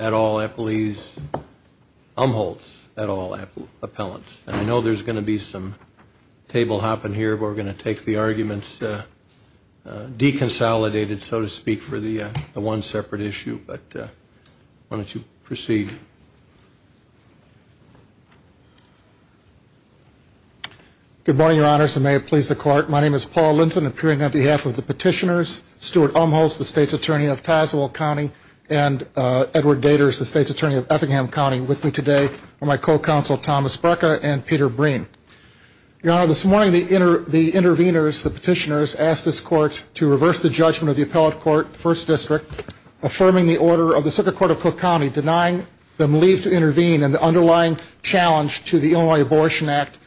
at all appellees, Umholtz at all appellants. And I know there's going to be some table hopping here, but we're going to take the arguments deconsolidated, so to speak, for the one separate issue. But why don't you proceed. Thank you. Thank you. Good morning, your honors, and may it please the court. My name is Paul Linton, appearing on behalf of the petitioners, Stuart Umholtz, the state's attorney of Tazewell County, and Edward Gators, the state's attorney of Effingham County, with me today are my co-counsel Thomas Brecka and Peter Breen. Your honor, this morning the interveners, the petitioners, asked this court to reverse the judgment of the appellate court, 1st District, affirming the order of the Circuit Court of Cook County, denying them leave to intervene in the underlying challenge to the Illinois Abortion Act,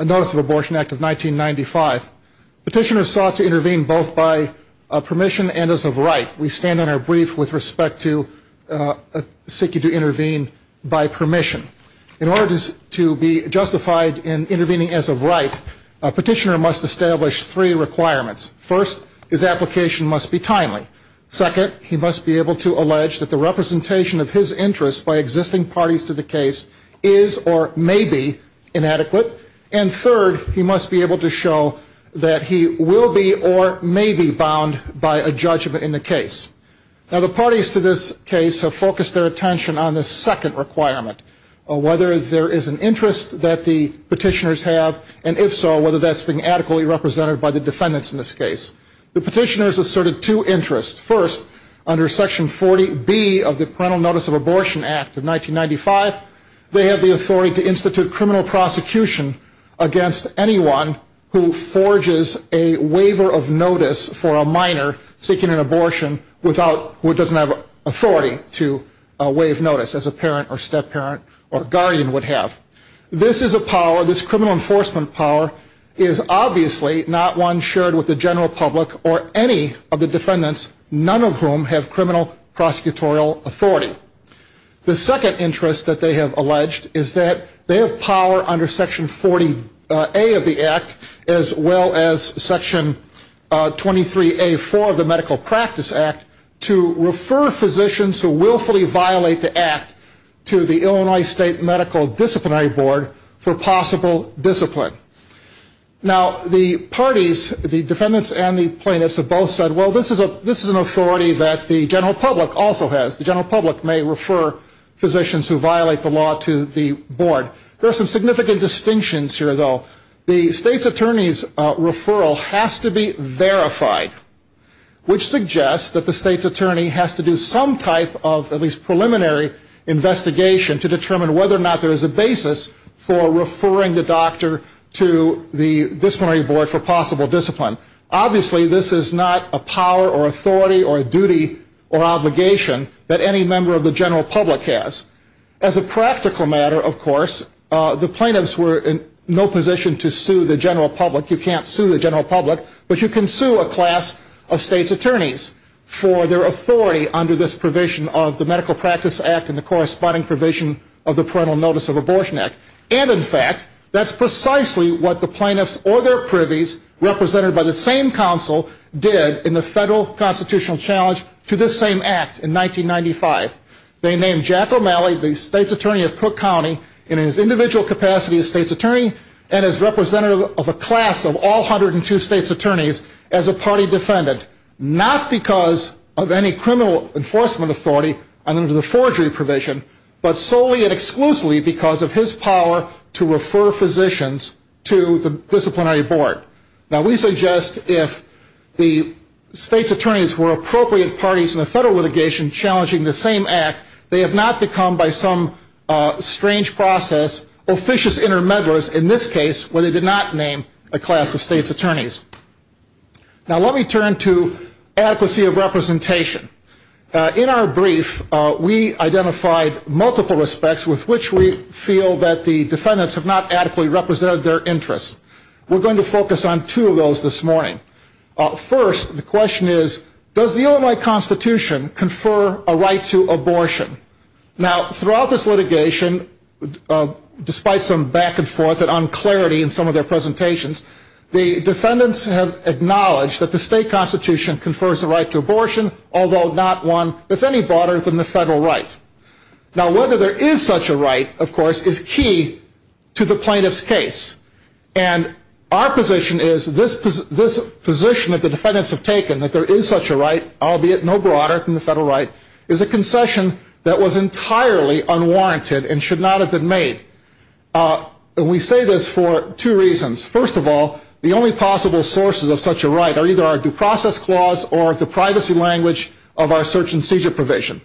Notice of Abortion Act of 1995. Petitioners sought to intervene both by permission and as of right. We stand in our brief with respect to seeking to intervene by permission. In order to be justified in intervening as of right, a petitioner must establish three requirements. First, his application must be timely. Second, he must be able to allege that the representation of his interest by existing parties to the case is or may be inadequate. And third, he must be able to show that he will be or may be bound by a judgment in the case. Now the parties to this case have focused their attention on the second requirement, whether there is an interest that the petitioners have, and if so, whether that's being adequately represented by the defendants in this case. The petitioners asserted two interests. First, under Section 40B of the Parental Notice of Abortion Act of 1995, they had the authority to institute criminal prosecution against anyone who forges a waiver of notice for a minor seeking an abortion who doesn't have authority to waive notice, as a parent or step-parent or guardian would have. This is a power, this criminal enforcement power, is obviously not one shared with the general public or any of the defendants, none of whom have criminal prosecutorial authority. The second interest that they have alleged is that they have power under Section 40A of the Act, as well as Section 23A4 of the Medical Practice Act, to refer physicians who willfully violate the act to the Illinois State Medical Disciplinary Board for possible discipline. Now the parties, the defendants and the plaintiffs, have both said, well, this is an authority that the general public also has. The general public may refer physicians who violate the law to the board. There are some significant distinctions here, though. The state's attorney's referral has to be verified, which suggests that the state's attorney has to do some type of at least preliminary investigation to determine whether or not there is a basis for referring the doctor to the disciplinary board for possible discipline. Obviously, this is not a power or authority or a duty or obligation that any member of the general public has. As a practical matter, of course, the plaintiffs were in no position to sue the general public. You can't sue the general public, but you can sue a class of state's attorneys for their authority under this provision of the Medical Practice Act and the corresponding provision of the Parental Notice of Abortion Act. And in fact, that's precisely what the plaintiffs or their privies, represented by the same counsel, did in the federal constitutional challenge to this same act in 1995. They named Jack O'Malley, the state's attorney of Cook County, in his individual capacity as state's attorney and as representative of a class of all 102 state's attorneys, as a party defendant, not because of any criminal enforcement authority under the forgery provision, but solely and exclusively because of his power to refer physicians to the disciplinary board. Now, we suggest if the state's attorneys were appropriate parties in the federal litigation challenging the same act, they have not become, by some strange process, officious intermediaries, in this case, where they did not name a class of state's attorneys. Now, let me turn to adequacy of representation. In our brief, we identified multiple respects with which we feel that the defendants have not adequately represented their interests. We're going to focus on two of those this morning. First, the question is, does the Illinois Constitution confer a right to abortion? Now, throughout this litigation, despite some back and forth and unclarity in some of their presentations, the defendants have acknowledged that the state constitution confers the right to abortion, although not one that's any broader than the federal right. Now, whether there is such a right, of course, is key to the plaintiff's case. And our position is, this position that the defendants have taken, that there is such a right, albeit no broader than the federal right, is a concession that was entirely unwarranted and should not have been made. And we say this for two reasons. First of all, the only possible sources of such a right are either our due process clause or the privacy language of our search and seizure provision.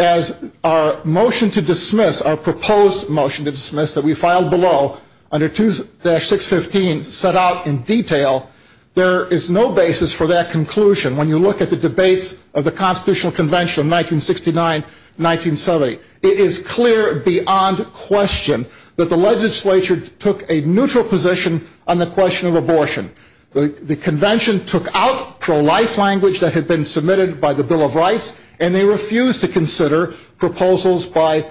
As our motion to dismiss, our proposed motion to dismiss, that we filed below, under 2-615, set out in detail, there is no basis for that conclusion. When you look at the debates of the Constitutional Convention of 1969-1970, it is clear beyond question that the legislature took a neutral position on the question of abortion. The convention took out pro-life language that had been submitted by the Bill of Rights, and they refused to consider proposals by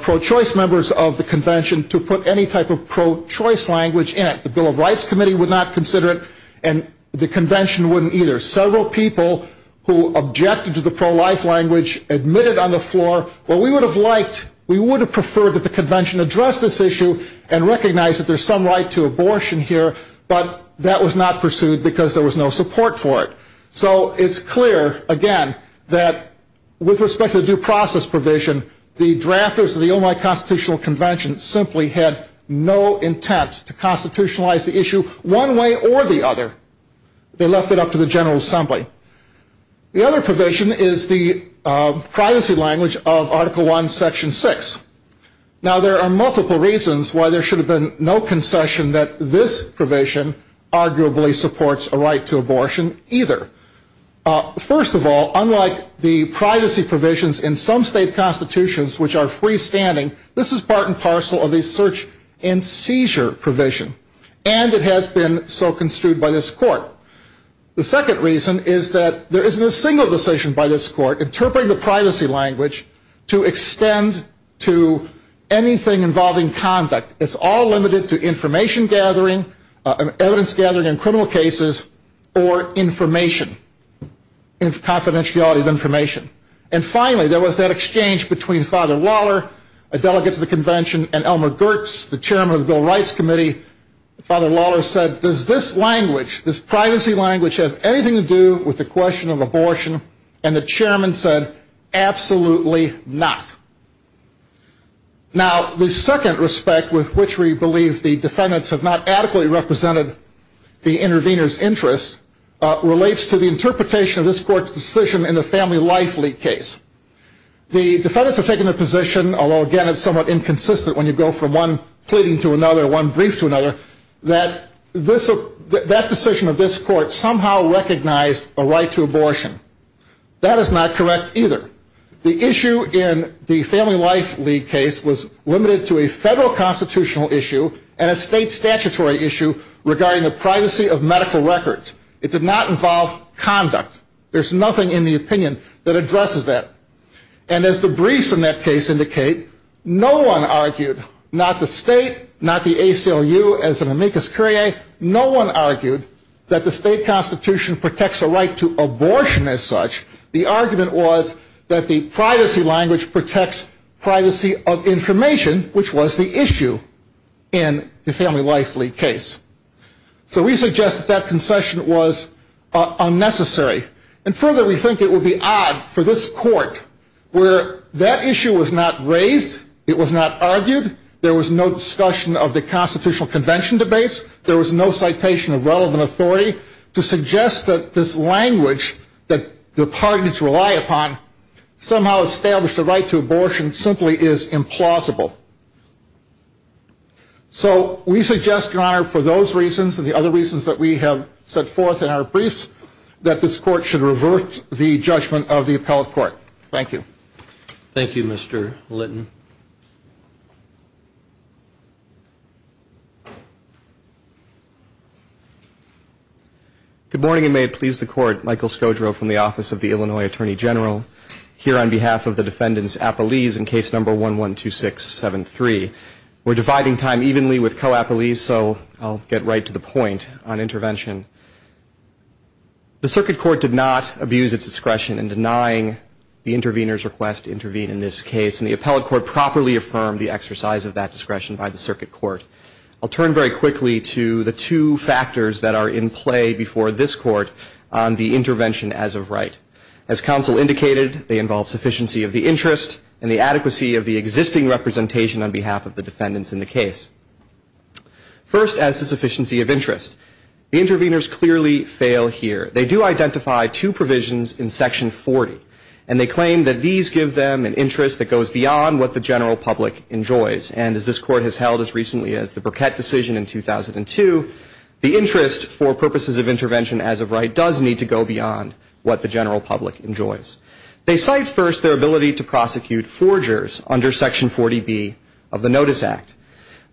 pro-choice members of the convention to put any type of pro-choice language in it. The Bill of Rights Committee would not consider it, and the convention wouldn't either. Several people who objected to the pro-life language admitted on the floor, well, we would have liked, we would have preferred that the convention address this issue and recognize that there's some right to abortion here, but that was not pursued because there was no support for it. So it's clear, again, that with respect to the due process provision, the drafters of the Illinois Constitutional Convention simply had no intent to constitutionalize the issue one way or the other. They left it up to the General Assembly. The other provision is the privacy language of Article I, Section 6. Now, there are multiple reasons why there should have been no concession that this provision arguably supports a right to abortion either. First of all, unlike the privacy provisions in some state constitutions which are freestanding, this is part and parcel of the search and seizure provision, and it has been so construed by this court. The second reason is that there isn't a single decision by this court interpreting the privacy language to extend to anything involving conduct. It's all limited to information gathering, evidence gathering in criminal cases, or information, confidentiality of information. And finally, there was that exchange between Father Lawler, a delegate to the convention, and Elmer Goertz, the chairman of the Bill of Rights Committee. Father Lawler said, does this language, this privacy language, have anything to do with the question of abortion? And the chairman said, absolutely not. Now, the second respect with which we believe the defendants have not adequately represented the intervener's interests relates to the interpretation of this court's decision in the Family Life League case. The defendants have taken the position, although again it's somewhat inconsistent when you go from one pleading to another, one brief to another, that that decision of this court somehow recognized a right to abortion. That is not correct either. The issue in the Family Life League case was limited to a federal constitutional issue and a state statutory issue regarding the privacy of medical records. It did not involve conduct. There's nothing in the opinion that addresses that. And as the briefs in that case indicate, no one argued, not the state, not the ACLU as an amicus curiae, no one argued that the state constitution protects a right to abortion as such. The argument was that the privacy language protects privacy of information, which was the issue in the Family Life League case. So we suggest that that concession was unnecessary. And further, we think it would be odd for this court, where that issue was not raised, it was not argued, there was no discussion of the constitutional convention debates, there was no citation of relevant authority, to suggest that this language that the pardons rely upon somehow established a right to abortion simply is implausible. So we suggest, Your Honor, for those reasons and the other reasons that we have set forth in our briefs, that this court should revert the judgment of the appellate court. Thank you. Thank you, Mr. Linton. Good morning, and may it please the court, Michael Skodro from the Office of the Illinois Attorney General, here on behalf of the defendants' appellees in case number 112673. We're dividing time evenly with co-appellees, so I'll get right to the point on intervention. The circuit court did not abuse its discretion in denying the intervener's request to intervene in this case, and the appellate court properly affirmed the exercise of that discretion by the circuit court. I'll turn very quickly to the two factors that are in play before this court on the intervention as of right. As counsel indicated, they involve sufficiency of the interest and the adequacy of the existing representation on behalf of the defendants in the case. First, as to sufficiency of interest, the interveners clearly fail here. They do identify two provisions in Section 40, and they claim that these give them an interest that goes beyond what the general public enjoys. And as this court has held as recently as the Burkett decision in 2002, the interest for purposes of intervention as of right does need to go beyond what the general public enjoys. They cite first their ability to prosecute forgers under Section 40B of the Notice Act.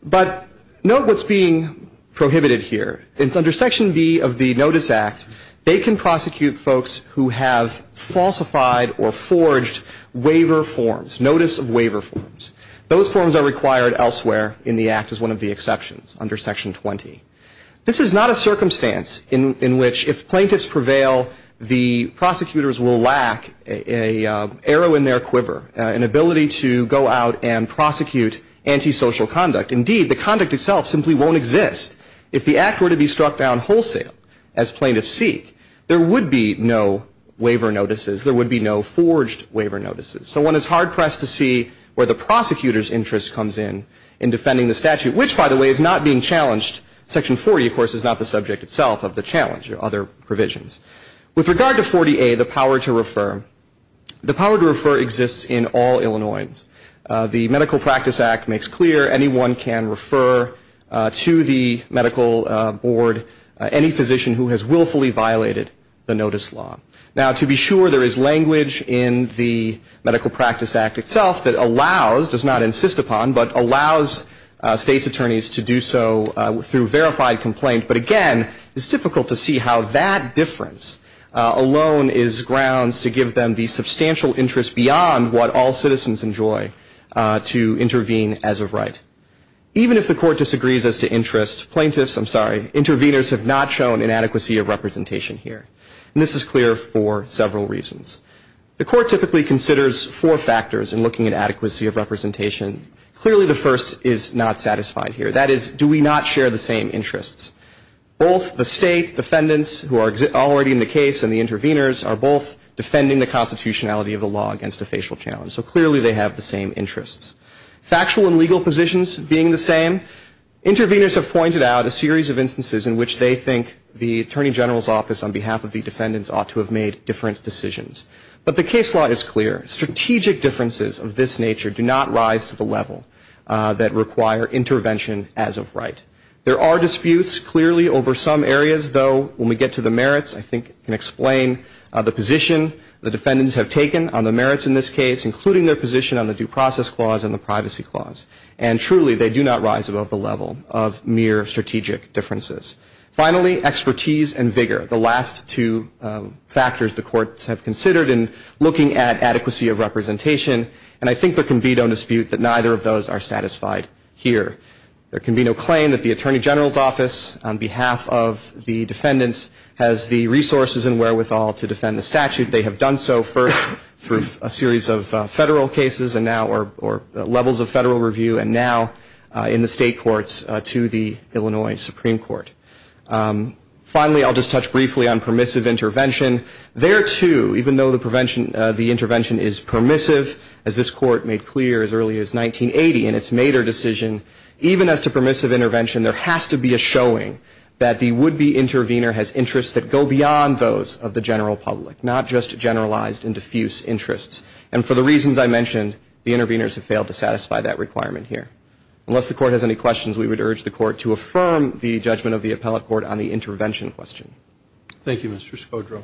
But note what's being prohibited here. Under Section B of the Notice Act, they can prosecute folks who have falsified or forged waiver forms, notice of waiver forms. Those forms are required elsewhere in the Act as one of the exceptions under Section 20. This is not a circumstance in which if plaintiffs prevail, the prosecutors will lack an arrow in their quiver, an ability to go out and prosecute antisocial conduct. Indeed, the conduct itself simply won't exist. If the Act were to be struck down wholesale as plaintiffs seek, there would be no waiver notices. There would be no forged waiver notices. So one is hard-pressed to see where the prosecutor's interest comes in in defending the statute, which, by the way, is not being challenged. Section 40, of course, is not the subject itself of the challenge or other provisions. With regard to 40A, the power to refer, the power to refer exists in all Illinoisans. The Medical Practice Act makes clear anyone can refer to the medical board any physician who has willfully violated the notice law. Now, to be sure, there is language in the Medical Practice Act itself that allows, does not insist upon, but allows state's attorneys to do so through verified complaint. But, again, it's difficult to see how that difference alone is grounds to give them the substantial interest beyond what all citizens enjoy to intervene as of right. Even if the court disagrees as to interest, plaintiffs, I'm sorry, interveners have not shown inadequacy of representation here. And this is clear for several reasons. The court typically considers four factors in looking at adequacy of representation. Clearly, the first is not satisfied here. That is, do we not share the same interests? Both the state defendants who are already in the case and the interveners are both defending the constitutionality of the law against a facial challenge. So, clearly, they have the same interests. Factual and legal positions being the same, Interveners have pointed out a series of instances in which they think the Attorney General's Office, on behalf of the defendants, ought to have made different decisions. But the case law is clear. Strategic differences of this nature do not rise to the level that require intervention as of right. There are disputes, clearly, over some areas, though, when we get to the merits. I think I can explain the position the defendants have taken on the merits in this case, including their position on the due process clause and the privacy clause. And, truly, they do not rise above the level of mere strategic differences. Finally, expertise and vigor, the last two factors the courts have considered in looking at adequacy of representation, and I think there can be no dispute that neither of those are satisfied here. There can be no claim that the Attorney General's Office, on behalf of the defendants, has the resources and wherewithal to defend the statute. They have done so for a series of federal cases or levels of federal review, and now in the state courts to the Illinois Supreme Court. Finally, I'll just touch briefly on permissive intervention. There, too, even though the intervention is permissive, as this court made clear as early as 1980 in its Maeder decision, even as to permissive intervention, there has to be a showing that the would-be intervener has interests that go beyond those of the general public, not just generalized and diffuse interests. And for the reasons I mentioned, the interveners have failed to satisfy that requirement here. Unless the court has any questions, we would urge the court to affirm the judgment of the appellate court on the intervention question. Thank you, Mr. Scodro.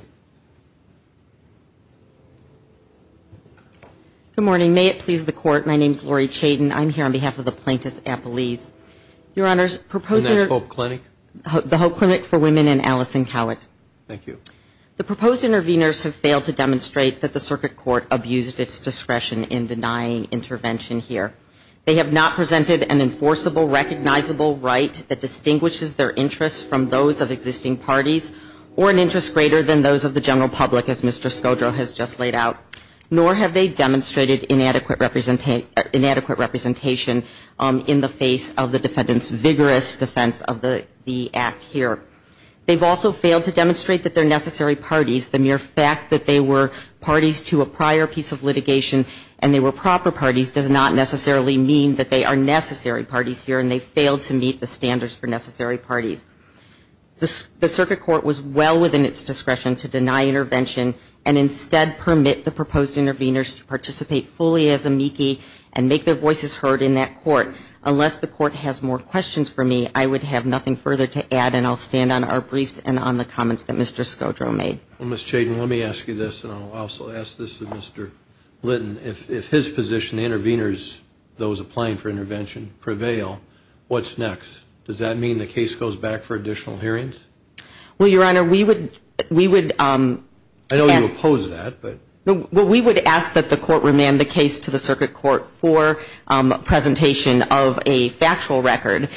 Good morning. May it please the court, my name is Lori Chayden. I'm here on behalf of the Plaintiff's Appellees. Your Honors, the Hope Clinic for Women and Allison Howitt. Thank you. The proposed interveners have failed to demonstrate that the circuit court abused its discretion in denying intervention here. They have not presented an enforceable, recognizable right that distinguishes their interests from those of existing parties or an interest greater than those of the general public, as Mr. Scodro has just laid out, nor have they demonstrated inadequate representation in the face of the defendant's vigorous defense of the act here. They've also failed to demonstrate that they're necessary parties. The mere fact that they were parties to a prior piece of litigation and they were proper parties does not necessarily mean that they are necessary parties here, and they failed to meet the standards for necessary parties. The circuit court was well within its discretion to deny intervention and instead permit the proposed interveners to participate fully as amici and make their voices heard in that court. Unless the court has more questions for me, I would have nothing further to add, and I'll stand on our briefs and on the comments that Mr. Scodro made. Ms. Chayden, let me ask you this, and I'll also ask this to Mr. Linton. If his position, the interveners, those applying for intervention, prevail, what's next? Does that mean the case goes back for additional hearings? Well, Your Honor, we would ask that the court remand the case to the circuit court for presentation of a factual record.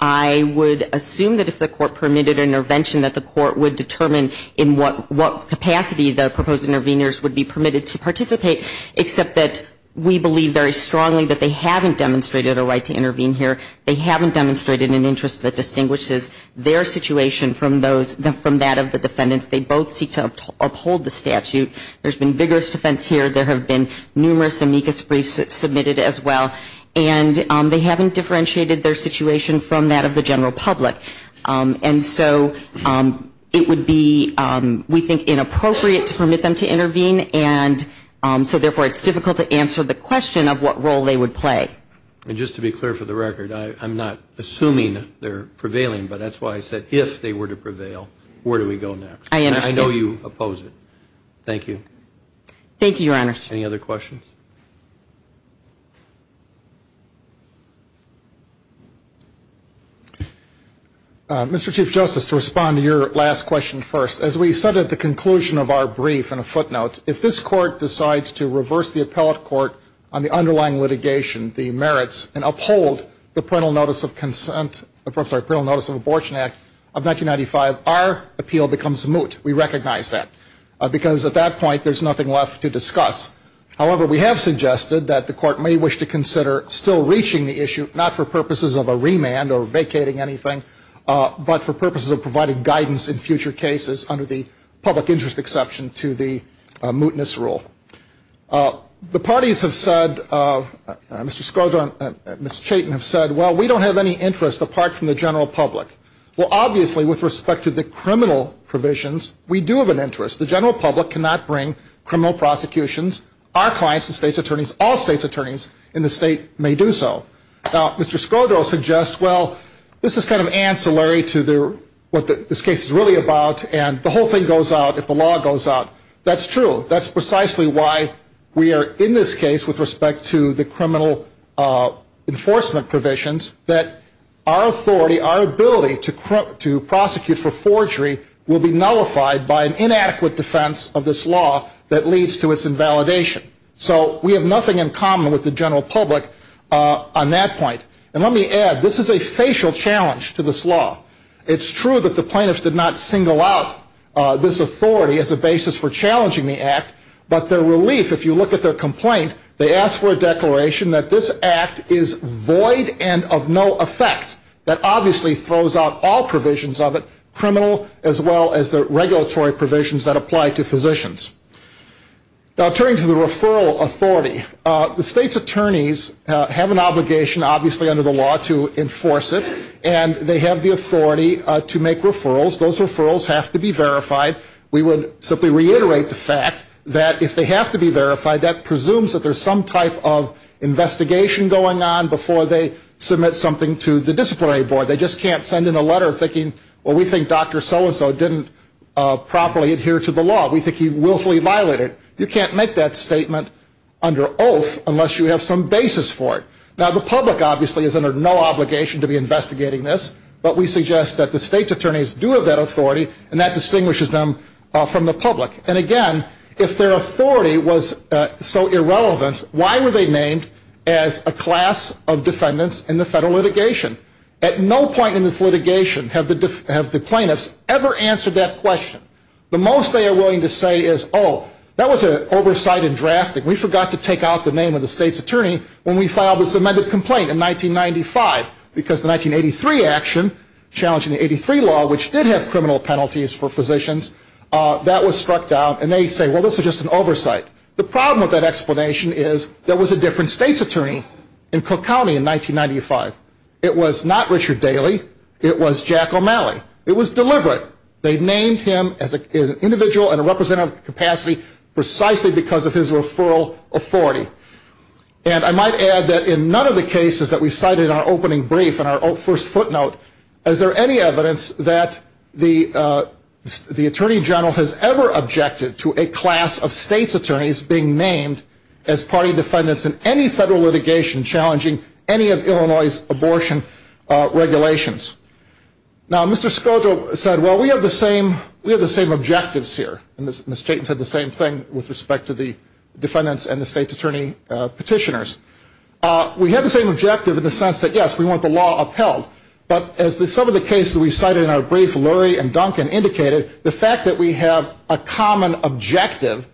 I would assume that if the court permitted intervention, that the court would determine in what capacity the proposed interveners would be permitted to participate, except that we believe very strongly that they haven't demonstrated a right to intervene here. They haven't demonstrated an interest that distinguishes their situation from that of the defendants. They both seek to uphold the statute. There's been vigorous defense here. There have been numerous amicus briefs submitted as well, and they haven't differentiated their situation from that of the general public. And so it would be, we think, inappropriate to permit them to intervene, and so therefore it's difficult to answer the question of what role they would play. And just to be clear for the record, I'm not assuming they're prevailing, but that's why I said if they were to prevail, where do we go next? I understand. I know you oppose it. Thank you. Thank you, Your Honor. Any other questions? Mr. Chief Justice, to respond to your last question first, as we said at the conclusion of our brief in a footnote, if this court decides to reverse the appellate court on the underlying litigation, the merits, and uphold the Parental Notice of Abortion Act of 1995, our appeal becomes moot. We recognize that because at that point there's nothing left to discuss. However, we have suggested that the court may wish to consider still reaching the issue, not for purposes of a remand or vacating anything, but for purposes of providing guidance in future cases under the public interest exception to the mootness rule. The parties have said, Mr. Scodro and Ms. Chaitin have said, well, we don't have any interest apart from the general public. Well, obviously, with respect to the criminal provisions, we do have an interest. The general public cannot bring criminal prosecutions. Our clients, the state's attorneys, all state's attorneys in the state may do so. Now, Mr. Scodro suggests, well, this is kind of ancillary to what this case is really about, and the whole thing goes out if the law goes out. That's true. That's precisely why we are in this case with respect to the criminal enforcement provisions, that our authority, our ability to prosecute for forgery will be nullified by an inadequate defense of this law that leads to its invalidation. So we have nothing in common with the general public on that point. And let me add, this is a facial challenge to this law. It's true that the plaintiffs did not single out this authority as a basis for challenging the act, but their relief, if you look at their complaint, they asked for a declaration that this act is void and of no effect. That obviously throws out all provisions of it, criminal as well as the regulatory provisions that apply to physicians. Now, turning to the referral authority, the state's attorneys have an obligation, obviously, under the law to enforce it, and they have the authority to make referrals. Those referrals have to be verified. We would simply reiterate the fact that if they have to be verified, that presumes that there's some type of investigation going on before they submit something to the disciplinary board. They just can't send in a letter thinking, well, we think Dr. So-and-so didn't properly adhere to the law. We think he willfully violated it. You can't make that statement under oath unless you have some basis for it. Now, the public, obviously, is under no obligation to be investigating this, but we suggest that the state's attorneys do have that authority, and that distinguishes them from the public. And, again, if their authority was so irrelevant, why were they named as a class of defendants in the federal litigation? At no point in this litigation have the plaintiffs ever answered that question. The most they are willing to say is, oh, that was an oversight in drafting. We forgot to take out the name of the state's attorney when we filed this amended complaint in 1995, because the 1983 action, challenging the 83 law, which did have criminal penalties for physicians, that was struck down, and they say, well, this was just an oversight. The problem with that explanation is there was a different state's attorney in Cook County in 1995. It was not Richard Daly. It was Jack O'Malley. It was deliberate. They named him as an individual in a representative capacity precisely because of his referral authority. And I might add that in none of the cases that we cited in our opening brief, in our first footnote, is there any evidence that the Attorney General has ever objected to a class of state's attorneys being named as party defendants in any federal litigation challenging any of Illinois' abortion regulations. Now, Mr. Skogel said, well, we have the same objectives here. And Ms. Tatum said the same thing with respect to the defendants and the state's attorney petitioners. We have the same objective in the sense that, yes, we want the law upheld. But as some of the cases we cited in our brief, Lurie and Duncan, indicated, the fact that we have a common objective,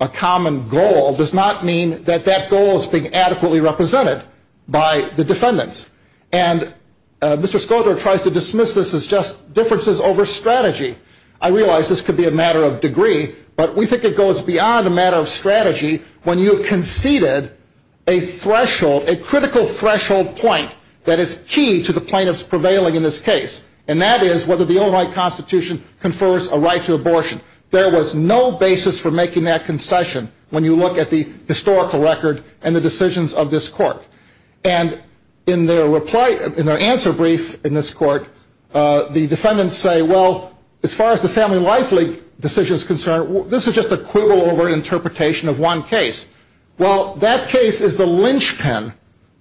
a common goal, does not mean that that goal is being adequately represented by the defendants. And Mr. Skogel tries to dismiss this as just differences over strategy. I realize this could be a matter of degree, but we think it goes beyond a matter of strategy when you conceded a critical threshold point that is key to the plaintiff's prevailing in this case. And that is whether the Illinois Constitution confers a right to abortion. There was no basis for making that concession when you look at the historical record and the decisions of this court. And in their answer brief in this court, the defendants say, well, as far as the Family Life League decision is concerned, this is just a quibble over interpretation of one case. Well, that case is the linchpin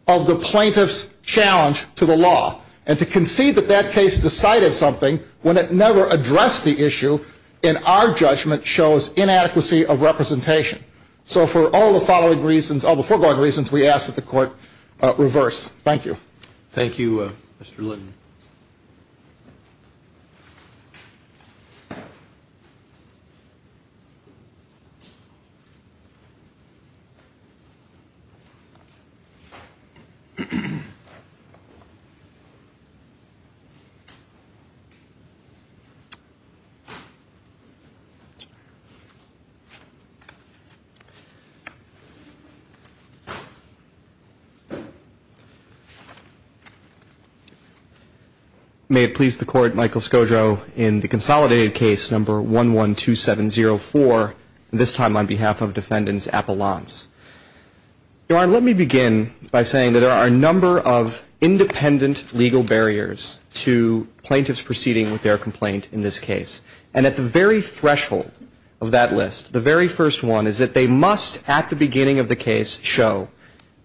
of the plaintiff's challenge to the law. And to concede that that case decided something when it never addressed the issue, in our judgment, shows inadequacy of representation. So for all the foregoing reasons, we ask that the court reverse. Thank you. Thank you, Mr. Linden. May it please the court, Michael Skojo in the consolidated case number 112704, this time on behalf of defendants at the LOMS. Your Honor, let me begin by saying that there are a number of independent legal barriers to plaintiffs proceeding with their complaint in this case. And at the very threshold of that list, the very first one is that they must, at the beginning of the case, show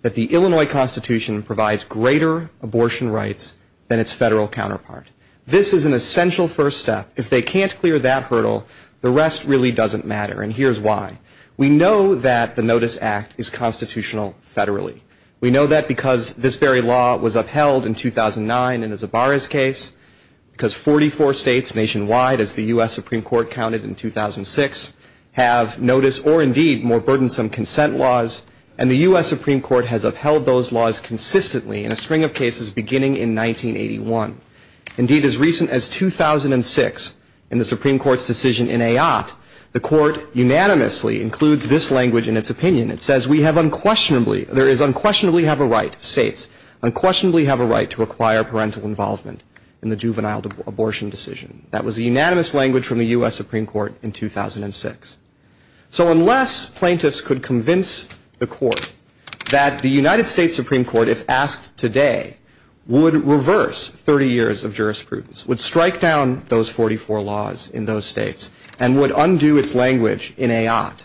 that the Illinois Constitution provides greater abortion rights than its federal counterpart. This is an essential first step. If they can't clear that hurdle, the rest really doesn't matter. And here's why. We know that the Notice Act is constitutional federally. We know that because this very law was upheld in 2009 in the Zabaris case, because 44 states nationwide, as the U.S. Supreme Court counted in 2006, have notice or, indeed, more burdensome consent laws. And the U.S. Supreme Court has upheld those laws consistently in a string of cases beginning in 1981. Indeed, as recent as 2006, in the Supreme Court's decision in Ayotte, the court unanimously includes this language in its opinion. It says, we have unquestionably, there is unquestionably have a right, states, unquestionably have a right to acquire parental involvement in the juvenile abortion decision. That was the unanimous language from the U.S. Supreme Court in 2006. So unless plaintiffs could convince the court that the United States Supreme Court, if asked today, would reverse 30 years of jurisprudence, would strike down those 44 laws in those states, and would undo its language in Ayotte,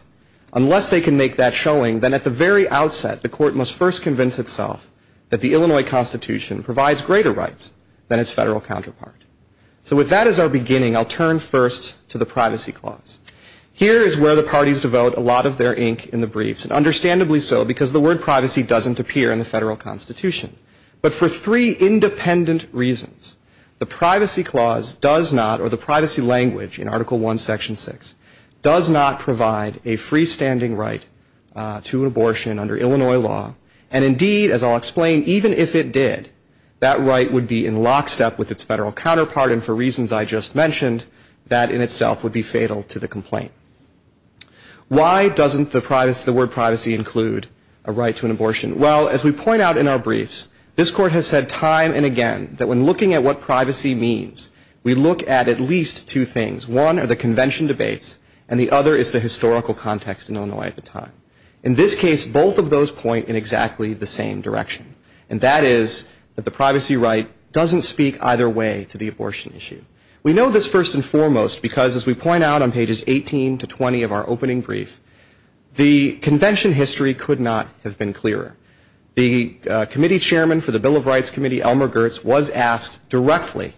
unless they can make that showing, then at the very outset, the court must first convince itself that the Illinois Constitution provides greater rights than its federal counterpart. So with that as our beginning, I'll turn first to the Privacy Clause. Here is where the parties devote a lot of their ink in the briefs, and understandably so, because the word privacy doesn't appear in the federal constitution. But for three independent reasons, the Privacy Clause does not, or the privacy language in Article I, Section 6, does not provide a freestanding right to an abortion under Illinois law. And indeed, as I'll explain, even if it did, that right would be in lockstep with its federal counterpart, and for reasons I just mentioned, that in itself would be fatal to the complaint. Why doesn't the word privacy include a right to an abortion? Well, as we point out in our briefs, this court has said time and again, that when looking at what privacy means, we look at at least two things. One are the convention debates, and the other is the historical context in Illinois at the time. In this case, both of those point in exactly the same direction. And that is, that the privacy right doesn't speak either way to the abortion issue. We know this first and foremost, because as we point out on pages 18 to 20 of our opening brief, the convention history could not have been clearer. The committee chairman for the Bill of Rights Committee, Elmer Girtz, was asked directly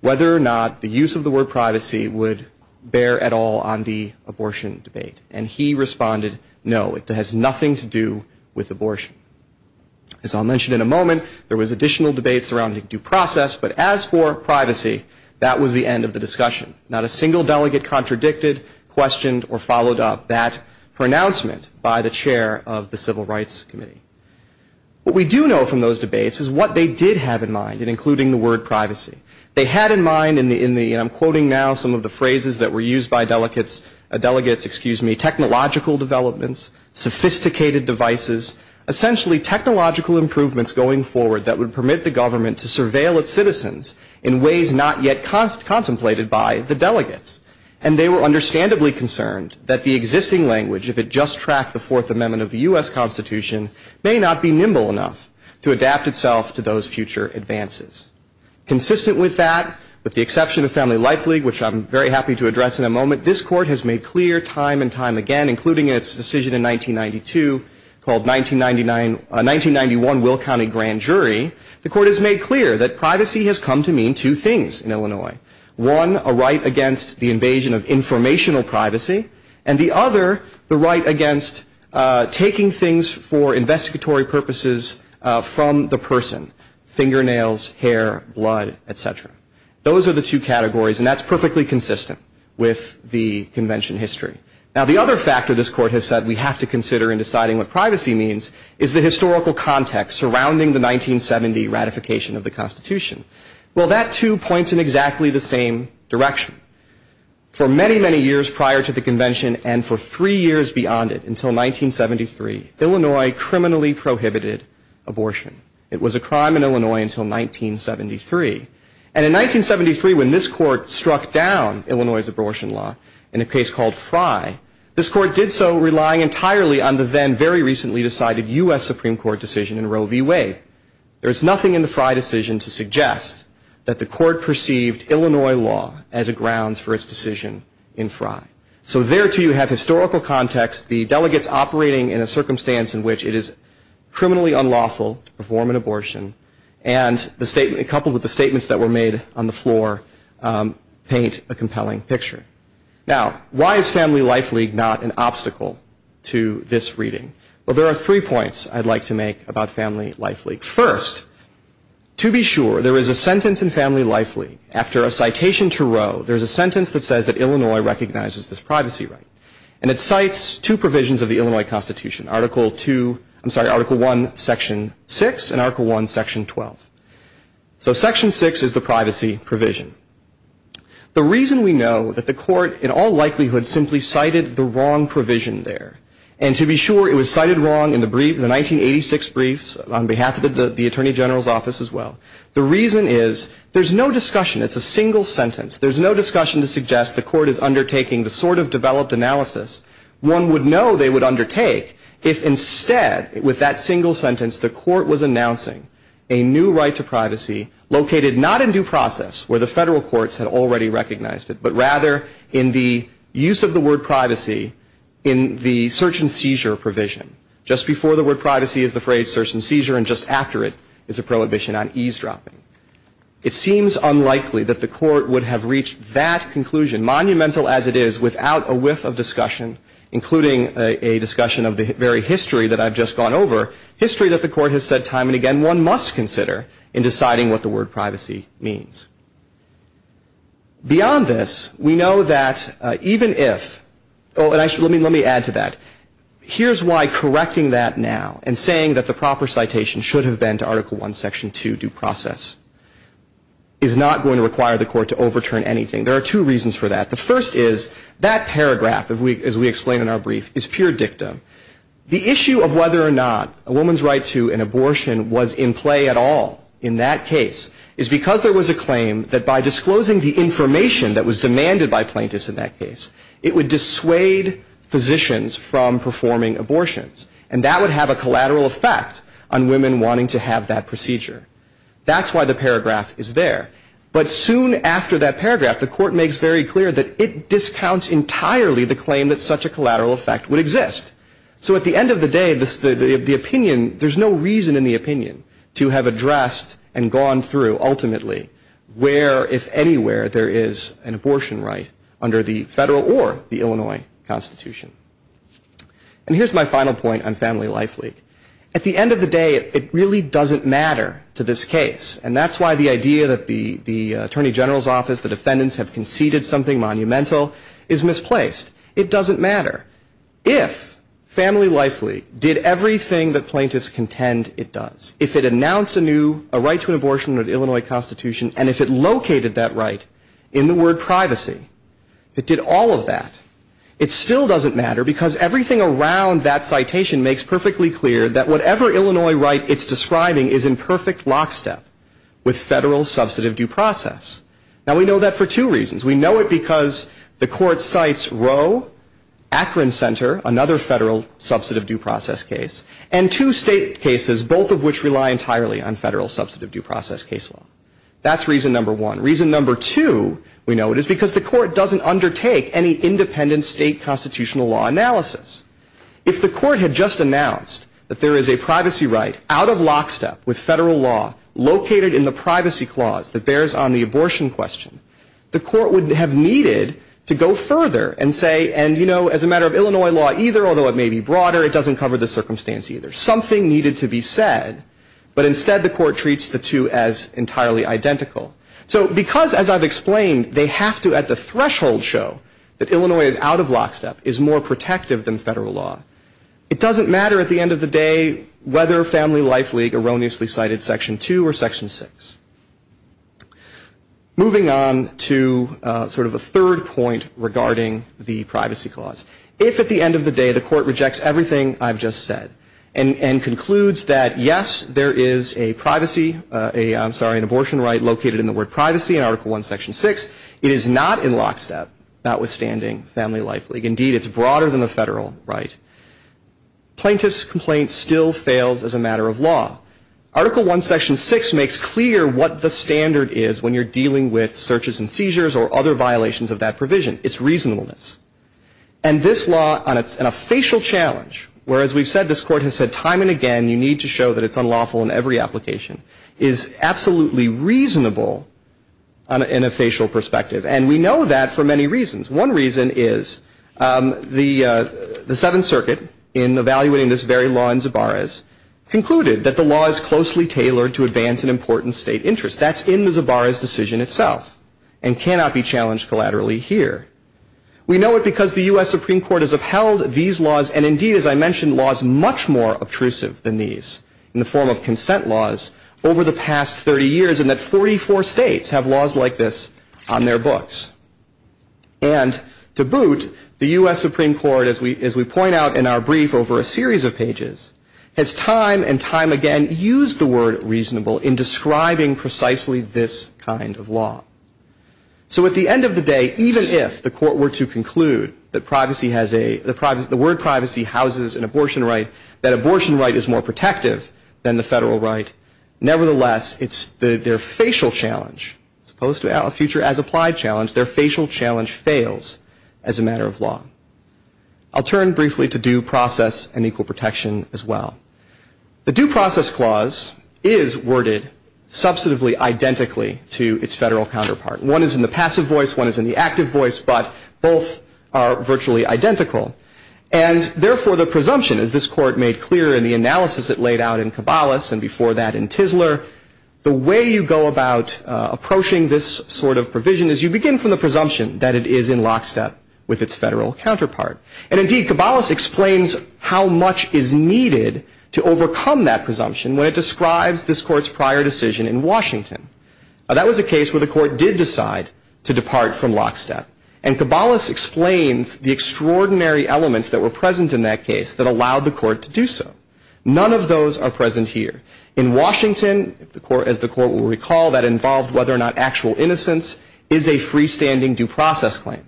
whether or not the use of the word privacy would bear at all on the abortion debate. And he responded, no, it has nothing to do with abortion. As I'll mention in a moment, there was additional debate surrounding due process, but as for privacy, that was the end of the discussion. Not a single delegate contradicted, questioned, or followed up that pronouncement by the chair of the Civil Rights Committee. What we do know from those debates is what they did have in mind in including the word privacy. They had in mind, and I'm quoting now some of the phrases that were used by delegates, technological developments, sophisticated devices, essentially technological improvements going forward that would permit the government to surveil its citizens in ways not yet contemplated by the delegates. And they were understandably concerned that the existing language, if it just tracked the Fourth Amendment of the U.S. Constitution, may not be nimble enough to adapt itself to those future advances. Consistent with that, with the exception of Family Life League, which I'm very happy to address in a moment, this court has made clear time and time again, including its decision in 1992 called 1991 Will County Grand Jury, the court has made clear that privacy has come to mean two things in Illinois. One, a right against the invasion of informational privacy, and the other, the right against taking things for investigatory purposes from the person, fingernails, hair, blood, etc. Those are the two categories, and that's perfectly consistent with the convention history. Now the other factor this court has said we have to consider in deciding what privacy means is the historical context surrounding the 1970 ratification of the Constitution. Well, that too points in exactly the same direction. For many, many years prior to the convention, and for three years beyond it, until 1973, Illinois criminally prohibited abortion. It was a crime in Illinois until 1973. And in 1973, when this court struck down Illinois' abortion law in a case called Fry, this court did so relying entirely on the then very recently decided U.S. Supreme Court decision in Roe v. Wade. There is nothing in the Fry decision to suggest that the court perceived Illinois' law as a grounds for its decision in Fry. So there too you have historical context, the delegates operating in a circumstance in which it is criminally unlawful to perform an abortion, and coupled with the statements that were made on the floor, paint a compelling picture. Now, why is Family Life League not an obstacle to this reading? Well, there are three points I'd like to make about Family Life League. First, to be sure, there is a sentence in Family Life League. After a citation to Roe, there is a sentence that says that Illinois recognizes this privacy right. And it cites two provisions of the Illinois Constitution, Article I, Section 6, and Article I, Section 12. So Section 6 is the privacy provision. The reason we know that the court in all likelihood simply cited the wrong provision there, and to be sure it was cited wrong in the 1986 briefs on behalf of the Attorney General's office as well. The reason is there's no discussion. It's a single sentence. There's no discussion to suggest the court is undertaking the sort of developed analysis one would know they would undertake if instead with that single sentence the court was announcing a new right to privacy located not in due process where the federal courts had already recognized it, but rather in the use of the word privacy in the search and seizure provision. Just before the word privacy is the phrase search and seizure, and just after it is a prohibition on eavesdropping. It seems unlikely that the court would have reached that conclusion, monumental as it is, without a whiff of discussion, including a discussion of the very history that I've just gone over, history that the court has said time and again that one must consider in deciding what the word privacy means. Beyond this, we know that even if, and let me add to that, here's why correcting that now and saying that the proper citation should have been to Article 1, Section 2, due process, is not going to require the court to overturn anything. There are two reasons for that. The first is that paragraph, as we explain in our brief, is pure dictum. The issue of whether or not a woman's right to an abortion was in play at all in that case is because there was a claim that by disclosing the information that was demanded by plaintiffs in that case, it would dissuade physicians from performing abortions, and that would have a collateral effect on women wanting to have that procedure. That's why the paragraph is there. But soon after that paragraph, the court makes very clear that it discounts entirely the claim that such a collateral effect would exist. So at the end of the day, there's no reason in the opinion to have addressed and gone through, ultimately, where, if anywhere, there is an abortion right under the federal or the Illinois Constitution. And here's my final point on Family Life League. At the end of the day, it really doesn't matter to this case, and that's why the idea that the Attorney General's Office, the defendants, have conceded something monumental is misplaced. It doesn't matter. If Family Life League did everything that plaintiffs contend it does, if it announced a right to an abortion under the Illinois Constitution, and if it located that right in the word privacy, it did all of that, it still doesn't matter because everything around that citation makes perfectly clear that whatever Illinois right it's describing is in perfect lockstep with federal substantive due process. Now we know that for two reasons. We know it because the court cites Roe, Akron Center, another federal substantive due process case, and two state cases, both of which rely entirely on federal substantive due process case law. That's reason number one. Reason number two, we know it is because the court doesn't undertake any independent state constitutional law analysis. If the court had just announced that there is a privacy right out of lockstep with federal law located in the privacy clause that bears on the abortion question, the court would have needed to go further and say, and you know, as a matter of Illinois law either, although it may be broader, it doesn't cover the circumstance either. Something needed to be said, but instead the court treats the two as entirely identical. So because, as I've explained, they have to at the threshold show that Illinois is out of lockstep is more protective than federal law, it doesn't matter at the end of the day whether Family Life League erroneously cited Section 2 or Section 6. Moving on to sort of a third point regarding the privacy clause. If at the end of the day the court rejects everything I've just said and concludes that yes, there is a privacy, I'm sorry, an abortion right located in the word privacy in Article 1, Section 6, it is not in lockstep, notwithstanding Family Life League. Indeed, it's broader than the federal right. Plaintiff's complaint still fails as a matter of law. Article 1, Section 6 makes clear what the standard is when you're dealing with searches and seizures or other violations of that provision. It's reasonableness. And this law, on a facial challenge, whereas we've said this court has said time and again you need to show that it's unlawful in every application, is absolutely reasonable in a facial perspective. And we know that for many reasons. One reason is the Seventh Circuit, in evaluating this very law in Zabaris, concluded that the law is closely tailored to advance an important state interest. That's in the Zabaris decision itself and cannot be challenged collaterally here. We know it because the U.S. Supreme Court has upheld these laws and indeed, as I mentioned, laws much more obtrusive than these in the form of consent laws over the past 30 years and that 44 states have laws like this on their books. And to boot, the U.S. Supreme Court, as we point out in our brief over a series of pages, has time and time again used the word reasonable in describing precisely this kind of law. So at the end of the day, even if the court were to conclude that the word privacy houses an abortion right, that abortion right is more protective than the federal right, nevertheless, it's their facial challenge as opposed to a future-as-applied challenge, their facial challenge fails as a matter of law. I'll turn briefly to due process and equal protection as well. The due process clause is worded substantively identically to its federal counterpart. One is in the passive voice, one is in the active voice, but both are virtually identical. And therefore, the presumption, as this court made clear in the analysis it laid out in Cabalas and before that in Tisler, the way you go about approaching this sort of provision is you begin from the presumption that it is in lockstep with its federal counterpart. And indeed, Cabalas explains how much is needed to overcome that presumption when it describes this court's prior decision in Washington. That was a case where the court did decide to depart from lockstep. And Cabalas explains the extraordinary elements that were present in that case that allowed the court to do so. None of those are present here. In Washington, as the court will recall, that involved whether or not actual innocence is a freestanding due process claim.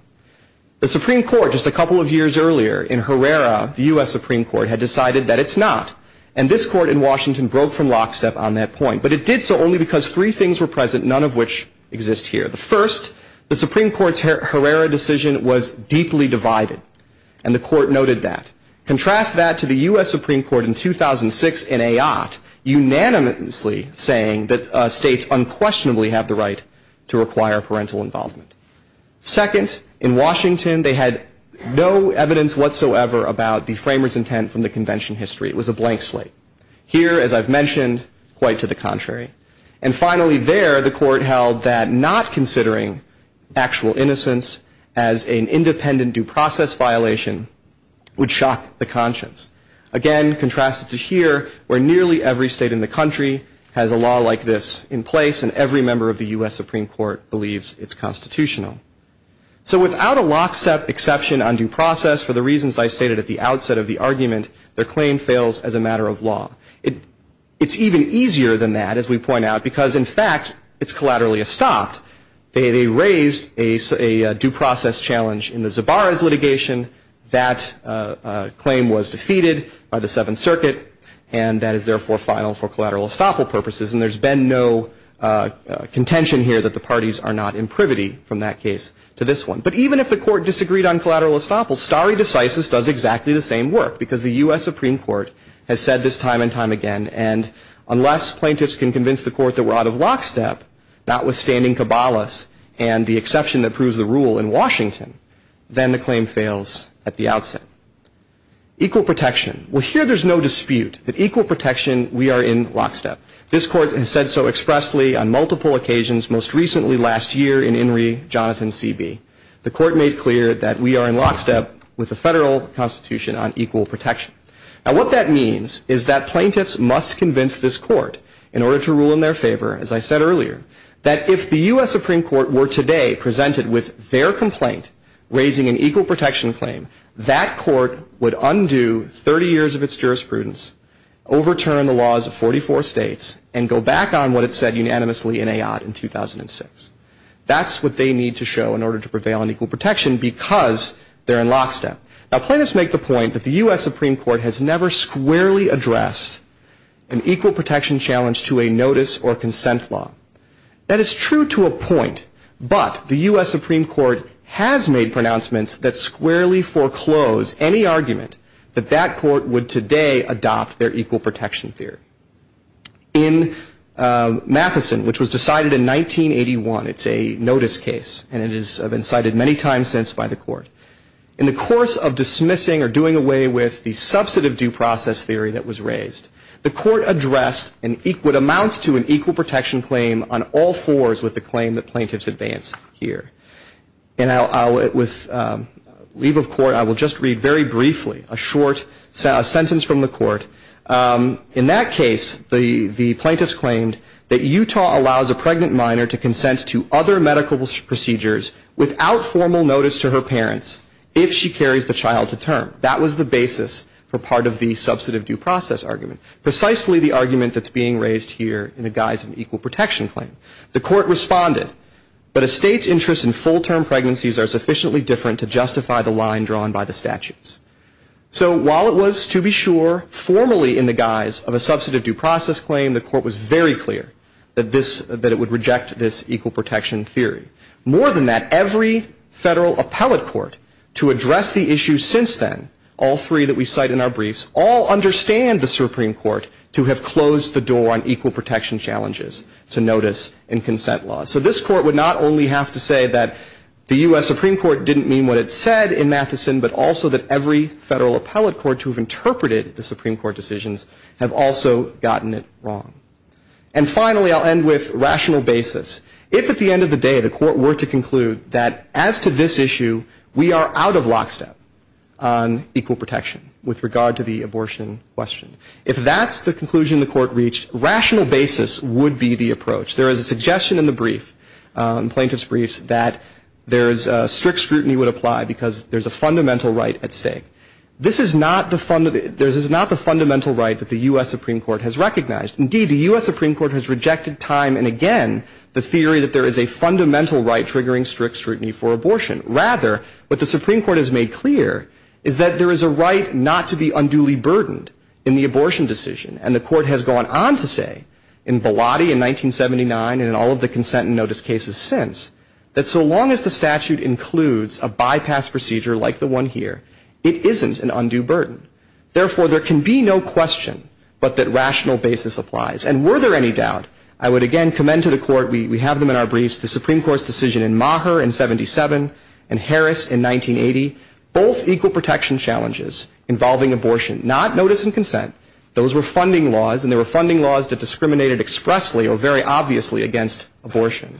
The Supreme Court just a couple of years earlier in Herrera, the U.S. Supreme Court, had decided that it's not. And this court in Washington broke from lockstep on that point. But it did so only because three things were present, none of which exist here. The first, the Supreme Court's Herrera decision was deeply divided, and the court noted that. Contrast that to the U.S. Supreme Court in 2006 in Ayotte unanimously saying that states unquestionably have the right to require parental involvement. Second, in Washington, they had no evidence whatsoever about the framers' intent from the convention history. It was a blank slate. Here, as I've mentioned, quite to the contrary. And finally there, the court held that not considering actual innocence as an independent due process violation would shock the conscience. Again, contrast it to here, where nearly every state in the country has a law like this in place, and every member of the U.S. Supreme Court believes it's constitutional. So without a lockstep exception on due process, for the reasons I stated at the outset of the argument, the claim fails as a matter of law. It's even easier than that, as we point out, because, in fact, it's collaterally estopped. They raised a due process challenge in the Zabara's litigation. That claim was defeated by the Seventh Circuit, and that is therefore filed for collateral estoppel purposes. And there's been no contention here that the parties are not in privity from that case to this one. But even if the court disagreed on collateral estoppel, stare decisis does exactly the same work, because the U.S. Supreme Court has said this time and time again, and unless plaintiffs can convince the court that we're out of lockstep, notwithstanding cabalas and the exception that proves the rule in Washington, then the claim fails at the outset. Equal protection. Well, here there's no dispute that equal protection, we are in lockstep. This court has said so expressly on multiple occasions, most recently last year in In re. Jonathan C.B. The court made clear that we are in lockstep with the federal constitution on equal protection. And what that means is that plaintiffs must convince this court, in order to rule in their favor, as I said earlier, that if the U.S. Supreme Court were today presented with their complaint raising an equal protection claim, that court would undo 30 years of its jurisprudence, overturn the laws of 44 states, and go back on what it said unanimously in A.I. in 2006. That's what they need to show in order to prevail on equal protection, because they're in lockstep. Now, plaintiffs make the point that the U.S. Supreme Court has never squarely addressed an equal protection challenge to a notice or consent law. That is true to a point, but the U.S. Supreme Court has made pronouncements that squarely foreclose any argument that that court would today adopt their equal protection theory. In Matheson, which was decided in 1981, it's a notice case, and it has been cited many times since by the court. In the course of dismissing or doing away with the substantive due process theory that was raised, the court addressed what amounts to an equal protection claim on all fours with the claim that plaintiffs advance here. With leave of court, I will just read very briefly a short sentence from the court. In that case, the plaintiffs claimed that Utah allows a pregnant minor to consent to other medical procedures without formal notice to her parents if she carries the child to term. That was the basis for part of the substantive due process argument, precisely the argument that's being raised here in the guise of an equal protection claim. The court responded, but a state's interest in full-term pregnancies are sufficiently different to justify the line drawn by the statutes. So while it was, to be sure, formally in the guise of a substantive due process claim, the court was very clear that it would reject this equal protection theory. More than that, every federal appellate court to address the issue since then, all three that we cite in our briefs, all understand the Supreme Court to have closed the door on equal protection challenges to notice and consent laws. So this court would not only have to say that the U.S. Supreme Court didn't mean what it said in Matheson, but also that every federal appellate court to have interpreted the Supreme Court decisions have also gotten it wrong. And finally, I'll end with rational basis. If at the end of the day the court were to conclude that as to this issue, we are out of lockstep on equal protection with regard to the abortion question, if that's the conclusion the court reached, rational basis would be the approach. There is a suggestion in the plaintiff's briefs that strict scrutiny would apply because there's a fundamental right at stake. This is not the fundamental right that the U.S. Supreme Court has recognized. Indeed, the U.S. Supreme Court has rejected time and again the theory that there is a fundamental right triggering strict scrutiny for abortion. Rather, what the Supreme Court has made clear is that there is a right not to be unduly burdened in the abortion decision. And the court has gone on to say in Volati in 1979 and in all of the consent and notice cases since, that so long as the statute includes a bypass procedure like the one here, it isn't an undue burden. Therefore, there can be no question but that rational basis applies. And were there any doubt, I would again commend to the court, we have them in our briefs, the Supreme Court's decision in Maher in 77 and Harris in 1980. Both equal protection challenges involving abortion, not notice and consent, those were funding laws, and they were funding laws that discriminated expressly or very obviously against abortion.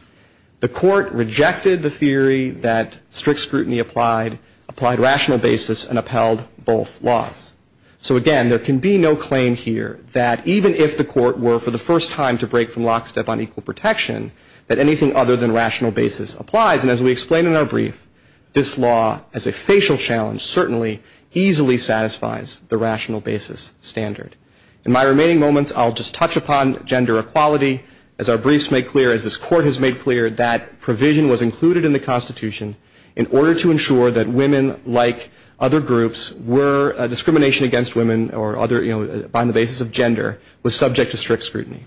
The court rejected the theory that strict scrutiny applied, applied rational basis, and upheld both laws. So again, there can be no claim here that even if the court were for the first time to break from lockstep on equal protection, that anything other than rational basis applies. And as we explain in our brief, this law as a facial challenge certainly easily satisfies the rational basis standard. In my remaining moments, I'll just touch upon gender equality. As our briefs make clear, as this court has made clear, that provision was included in the Constitution in order to ensure that women like other groups were, discrimination against women or other, you know, on the basis of gender was subject to strict scrutiny.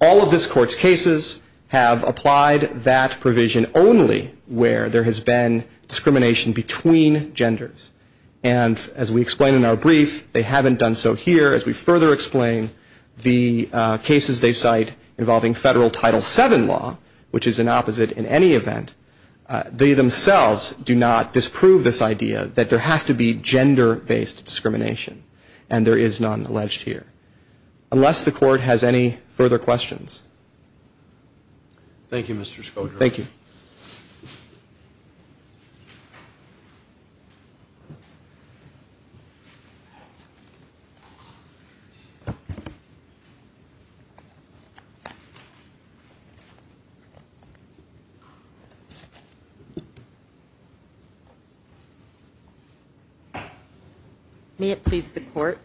All of this court's cases have applied that provision only where there has been discrimination between genders. And as we explain in our brief, they haven't done so here. As we further explain, the cases they cite involving federal Title VII law, which is an opposite in any event, they themselves do not disprove this idea that there has to be gender-based discrimination. And there is none alleged here. Unless the court has any further questions. Thank you, Mr. Schroeder. Thank you. May it please the court.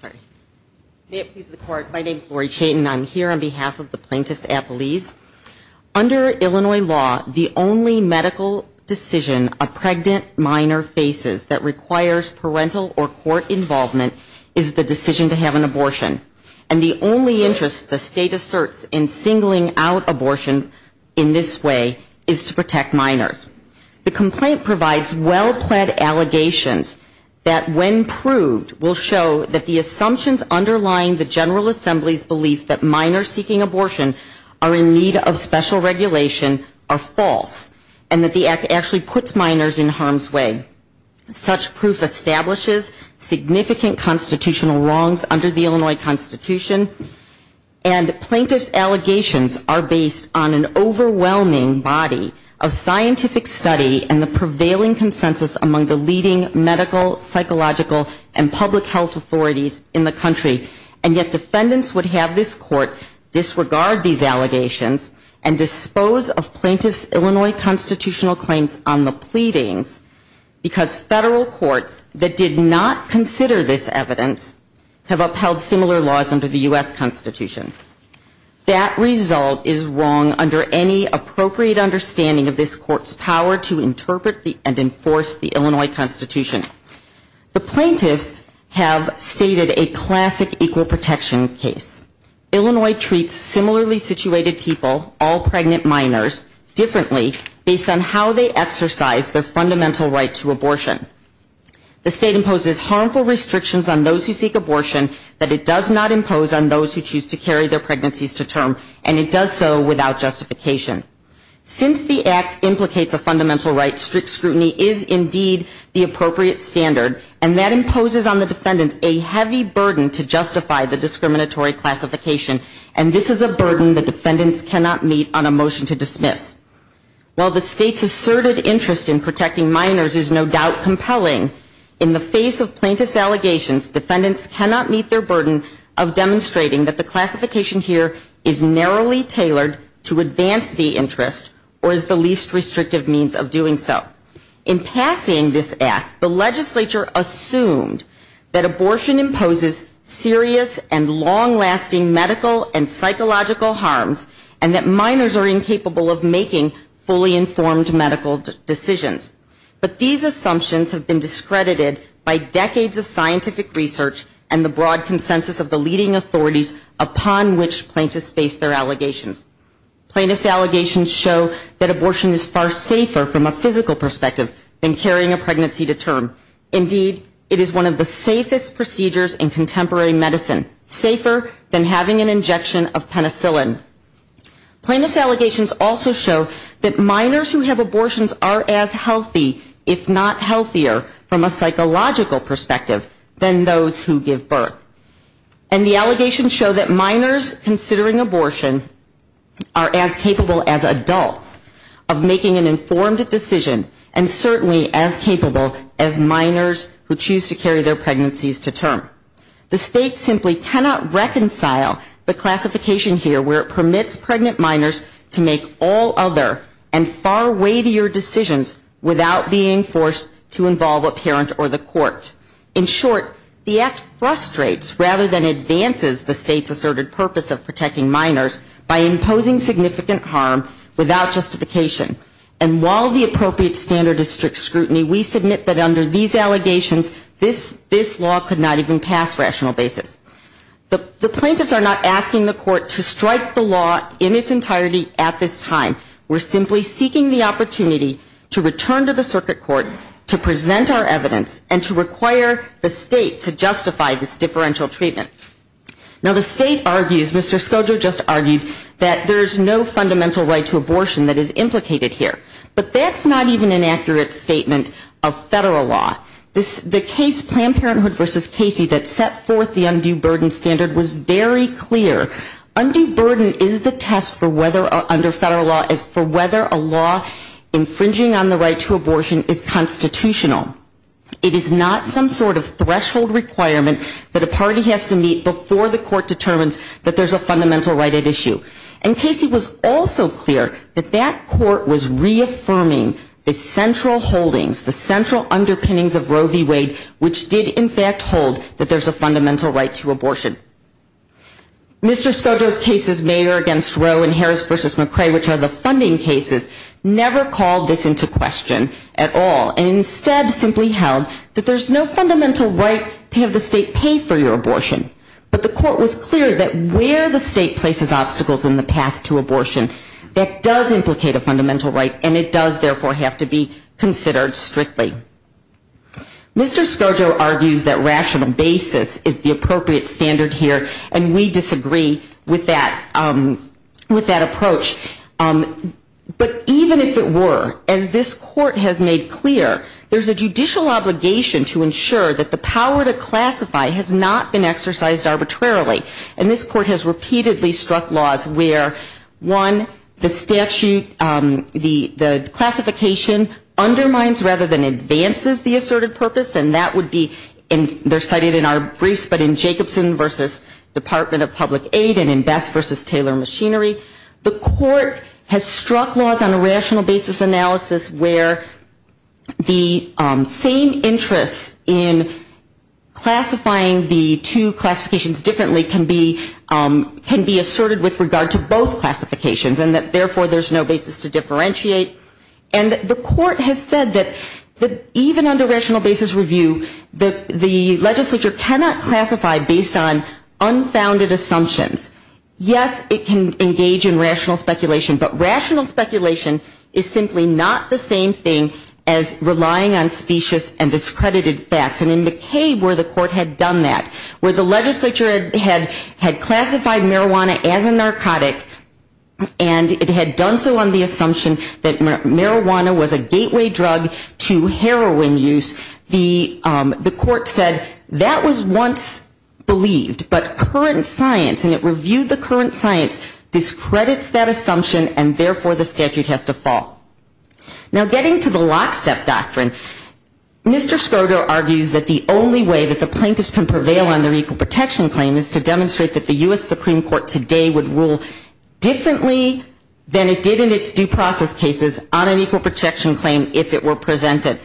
Sorry. May it please the court. My name is Lori Chaitin. I'm here on behalf of the Plaintiffs' Appeals. Under Illinois law, the only medical decision a pregnant minor faces that requires parental or court involvement is the decision to have an abortion. And the only interest the state asserts in singling out abortion in this way is to protect minors. The complaint provides well-planned allegations that, when proved, will show that the assumptions underlying the General Assembly's belief that minors seeking abortion are in need of special regulation are false and that the Act actually puts minors in harm's way. Such proof establishes significant constitutional wrongs under the Illinois Constitution. And plaintiff's allegations are based on an overwhelming body of scientific study and the prevailing consensus among the leading medical, psychological, and public health authorities in the country. And yet defendants would have this court disregard these allegations and dispose of plaintiff's Illinois constitutional claims on the pleading because federal courts that did not consider this evidence have upheld similar laws under the U.S. Constitution. That result is wrong under any appropriate understanding of this court's power to interpret and enforce the Illinois Constitution. The plaintiffs have stated a classic equal protection case. Illinois treats similarly situated people, all pregnant minors, differently based on how they exercise their fundamental right to abortion. The state imposes harmful restrictions on those who seek abortion, but it does not impose on those who choose to carry their pregnancies to term, and it does so without justification. Since the Act implicates a fundamental right, strict scrutiny is indeed the appropriate standard, and that imposes on the defendant a heavy burden to justify the discriminatory classification, and this is a burden that defendants cannot meet on a motion to dismiss. While the state's asserted interest in protecting minors is no doubt compelling, in the face of plaintiff's allegations, defendants cannot meet their burden of demonstrating that the classification here is narrowly tailored to advance the interest or is the least restrictive means of doing so. In passing this Act, the legislature assumed that abortion imposes serious and long-lasting medical and psychological harms, and that minors are incapable of making fully informed medical decisions. But these assumptions have been discredited by decades of scientific research and the broad consensus of the leading authorities upon which plaintiffs face their allegations. Plaintiff's allegations show that abortion is far safer from a physical perspective than carrying a pregnancy to term. Indeed, it is one of the safest procedures in contemporary medicine, safer than having an injection of penicillin. Plaintiff's allegations also show that minors who have abortions are as healthy, if not healthier, from a psychological perspective, than those who give birth. And the allegations show that minors considering abortion are as capable as adults of making an informed decision and certainly as capable as minors who choose to carry their pregnancies to term. The state simply cannot reconcile the classification here where it permits pregnant minors to make all other and far weightier decisions without being forced to involve a parent or the court. In short, the act frustrates rather than advances the state's asserted purpose of protecting minors by imposing significant harm without justification. And while the appropriate standard is strict scrutiny, we submit that under these allegations, this law could not even pass rational basis. The plaintiffs are not asking the court to strike the law in its entirety at this time. We're simply seeking the opportunity to return to the circuit court to present our evidence and to require the state to justify this differential treatment. Now the state argues, Mr. Scoggio just argued, that there's no fundamental right to abortion that is implicated here. But that's not even an accurate statement of federal law. The case Planned Parenthood v. Casey that set forth the undue burden standard was very clear. Undue burden is the test for whether, under federal law, is for whether a law infringing on the right to abortion is constitutional. It is not some sort of threshold requirement that a party has to meet before the court determines that there's a fundamental right at issue. And Casey was also clear that that court was reaffirming the central holdings, the central underpinnings of Roe v. Wade, which did in fact hold that there's a fundamental right to abortion. Mr. Scoggio's cases, Mayer v. Roe and Harris v. McCrae, which are the funding cases, never called this into question at all. And instead simply held that there's no fundamental right to have the state pay for your abortion. But the court was clear that where the state places obstacles in the path to abortion, that does implicate a fundamental right and it does therefore have to be considered strictly. Mr. Scoggio argues that rational basis is the appropriate standard here, and we disagree with that approach. But even if it were, as this court has made clear, there's a judicial obligation to ensure that the power to classify has not been exercised arbitrarily. And this court has repeatedly struck laws where, one, the statute, the classification undermines rather than advances the asserted purpose, and that would be, and they're cited in our briefs, but in Jacobson v. Department of Public Aid and in Best v. Taylor Machinery, the court has struck laws on a rational basis analysis where the same interest in classifying the two classifications differently can be asserted with regard to both classifications and that therefore there's no basis to differentiate. And the court has said that even under rational basis review, the legislature cannot classify based on unfounded assumptions. Yes, it can engage in rational speculation, but rational speculation is simply not the same thing as relying on specious and discredited facts. And in the case where the court had done that, where the legislature had classified marijuana as a narcotic and it had done so on the assumption that marijuana was a gateway drug to heroin use, the court said that was once believed, but current science, and it reviewed the current science, discredits that assumption and therefore the statute has to fall. Now getting to the lockstep doctrine, Mr. Schroeder argues that the only way that the plaintiffs can prevail on an equal protection claim is to demonstrate that the U.S. Supreme Court today would rule differently than it did in its due process cases on an equal protection claim if it were presented.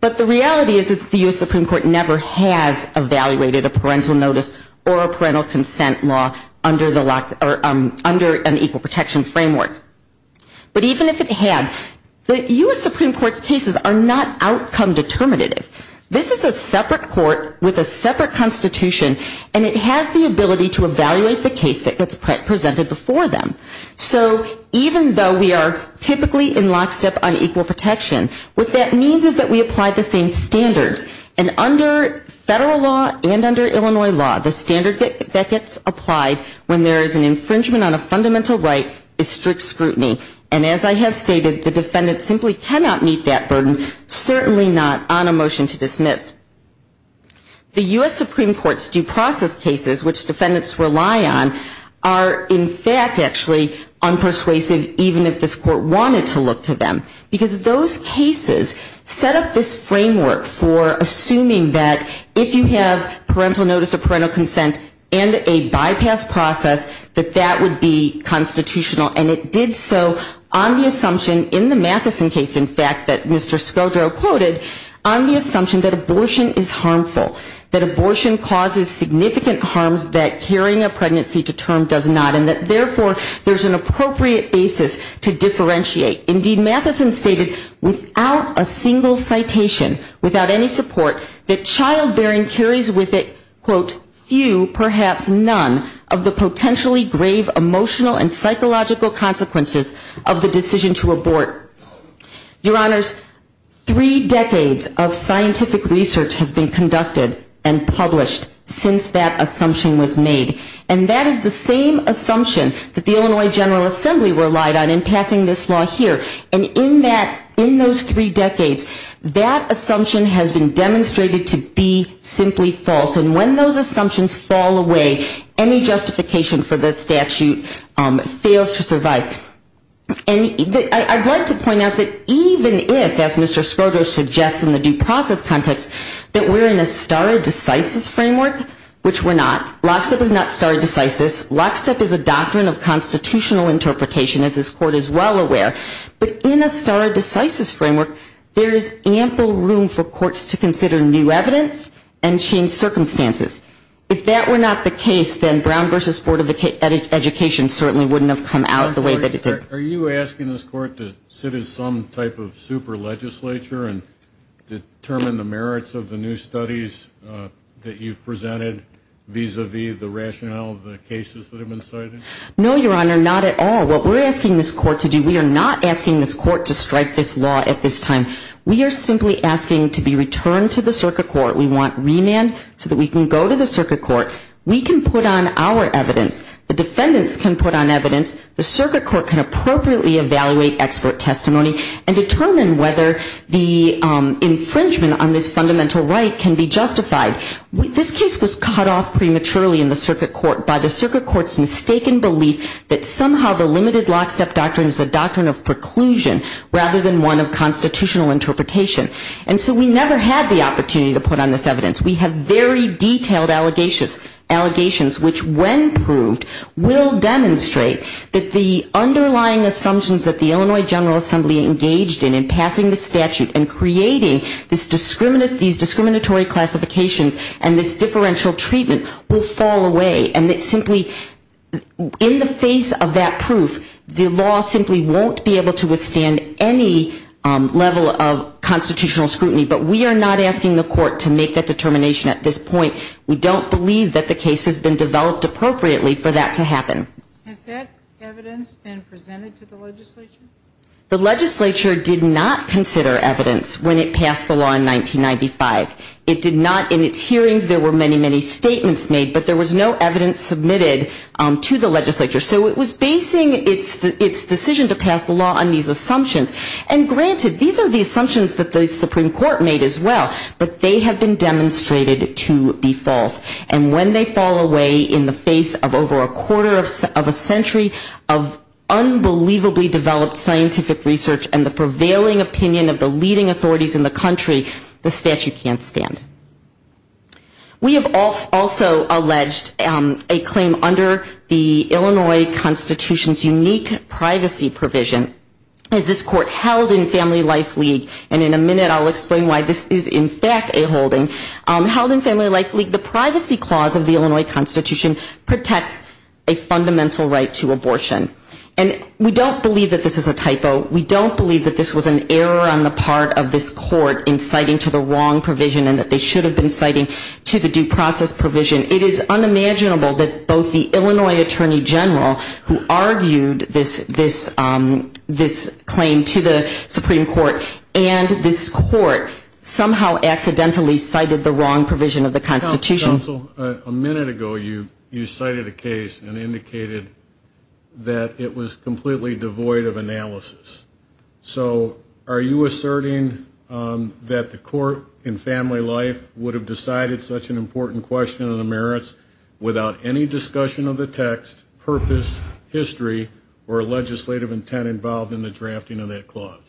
But the reality is that the U.S. Supreme Court never has evaluated a parental notice or a parental consent law under an equal protection framework. But even if it had, the U.S. Supreme Court's cases are not outcome determinative. This is a separate court with a separate constitution, and it has the ability to evaluate the case that gets presented before them. So even though we are typically in lockstep on equal protection, what that means is that we apply the same standards. And under federal law and under Illinois law, the standard that gets applied when there is an infringement on a fundamental right is strict scrutiny. And as I have stated, the defendant simply cannot meet that burden, certainly not on a motion to dismiss. The U.S. Supreme Court's due process cases, which defendants rely on, are in fact actually unpersuasive even if this court wanted to look to them. Because those cases set up this framework for assuming that if you have parental notice or parental consent and a bypass process, that that would be constitutional. And it did so on the assumption in the Matheson case, in fact, that Mr. Skodro quoted, on the assumption that abortion is harmful, that abortion causes significant harm, that carrying a pregnancy to term does not, and that therefore there's an appropriate basis to differentiate. Indeed, Matheson stated without a single citation, without any support, that childbearing carries with it, quote, few, perhaps none, of the potentially grave emotional and psychological consequences of the decision to abort. Your Honors, three decades of scientific research has been conducted and published since that assumption was made. And that is the same assumption that the Illinois General Assembly relied on in passing this law here. And in that, in those three decades, that assumption has been demonstrated to be simply false. And when those assumptions fall away, any justification for that statute fails to survive. And I'd like to point out that even if, as Mr. Skodro suggests in the due process context, that we're in a stare decisis framework, which we're not. Lockstep is not stare decisis. Lockstep is a doctrine of constitutional interpretation, as this Court is well aware. But in a stare decisis framework, there is ample room for courts to consider new evidence and change circumstances. If that were not the case, then Brown v. Board of Education certainly wouldn't have come out the way that it did. Are you asking this Court to sit as some type of super legislature and determine the merits of the new studies that you've presented vis-a-vis the rationale of the cases that have been cited? No, Your Honor, not at all. What we're asking this Court to do, we are not asking this Court to strike this law at this time. We are simply asking to be returned to the circuit court. We want remand so that we can go to the circuit court. We can put on our evidence. The defendants can put on evidence. The circuit court can appropriately evaluate expert testimony and determine whether the infringement on this fundamental right can be justified. This case was cut off prematurely in the circuit court by the circuit court's mistaken belief that somehow the limited lockstep doctrine is a doctrine of preclusion rather than one of constitutional interpretation. And so we never had the opportunity to put on this evidence. We have very detailed allegations which, when proved, will demonstrate that the underlying assumptions that the Illinois General Assembly engaged in in passing the statute and creating these discriminatory classifications and this differential treatment will fall away. And it simply, in the face of that proof, the law simply won't be able to withstand any level of constitutional scrutiny. But we are not asking the Court to make that determination at this point. We don't believe that the case has been developed appropriately for that to happen. Has that evidence been presented to the legislature? The legislature did not consider evidence when it passed the law in 1995. It did not in its hearings. There were many, many statements made, but there was no evidence submitted to the legislature. So it was basing its decision to pass the law on these assumptions. And granted, these are the assumptions that the Supreme Court made as well, but they have been demonstrated to be false. And when they fall away in the face of over a quarter of a century of unbelievably developed scientific research and the prevailing opinion of the leading authorities in the country, the statute can't stand. We have also alleged a claim under the Illinois Constitution's unique privacy provision. As this Court held in Family Life League, and in a minute I'll explain why this is in fact a holding. Held in Family Life League, the privacy clause of the Illinois Constitution protects a fundamental right to abortion. And we don't believe that this is a typo. We don't believe that this was an error on the part of this Court in citing to the wrong provision and that they should have been citing to the due process provision. It is unimaginable that both the Illinois Attorney General, who argued this claim to the Supreme Court, and this Court somehow accidentally cited the wrong provision of the Constitution. Counsel, a minute ago you cited a case and indicated that it was completely devoid of analysis. So are you asserting that the Court in Family Life would have decided such an important question on the merits without any discussion of the text, purpose, history, or legislative intent involved in the drafting of that clause?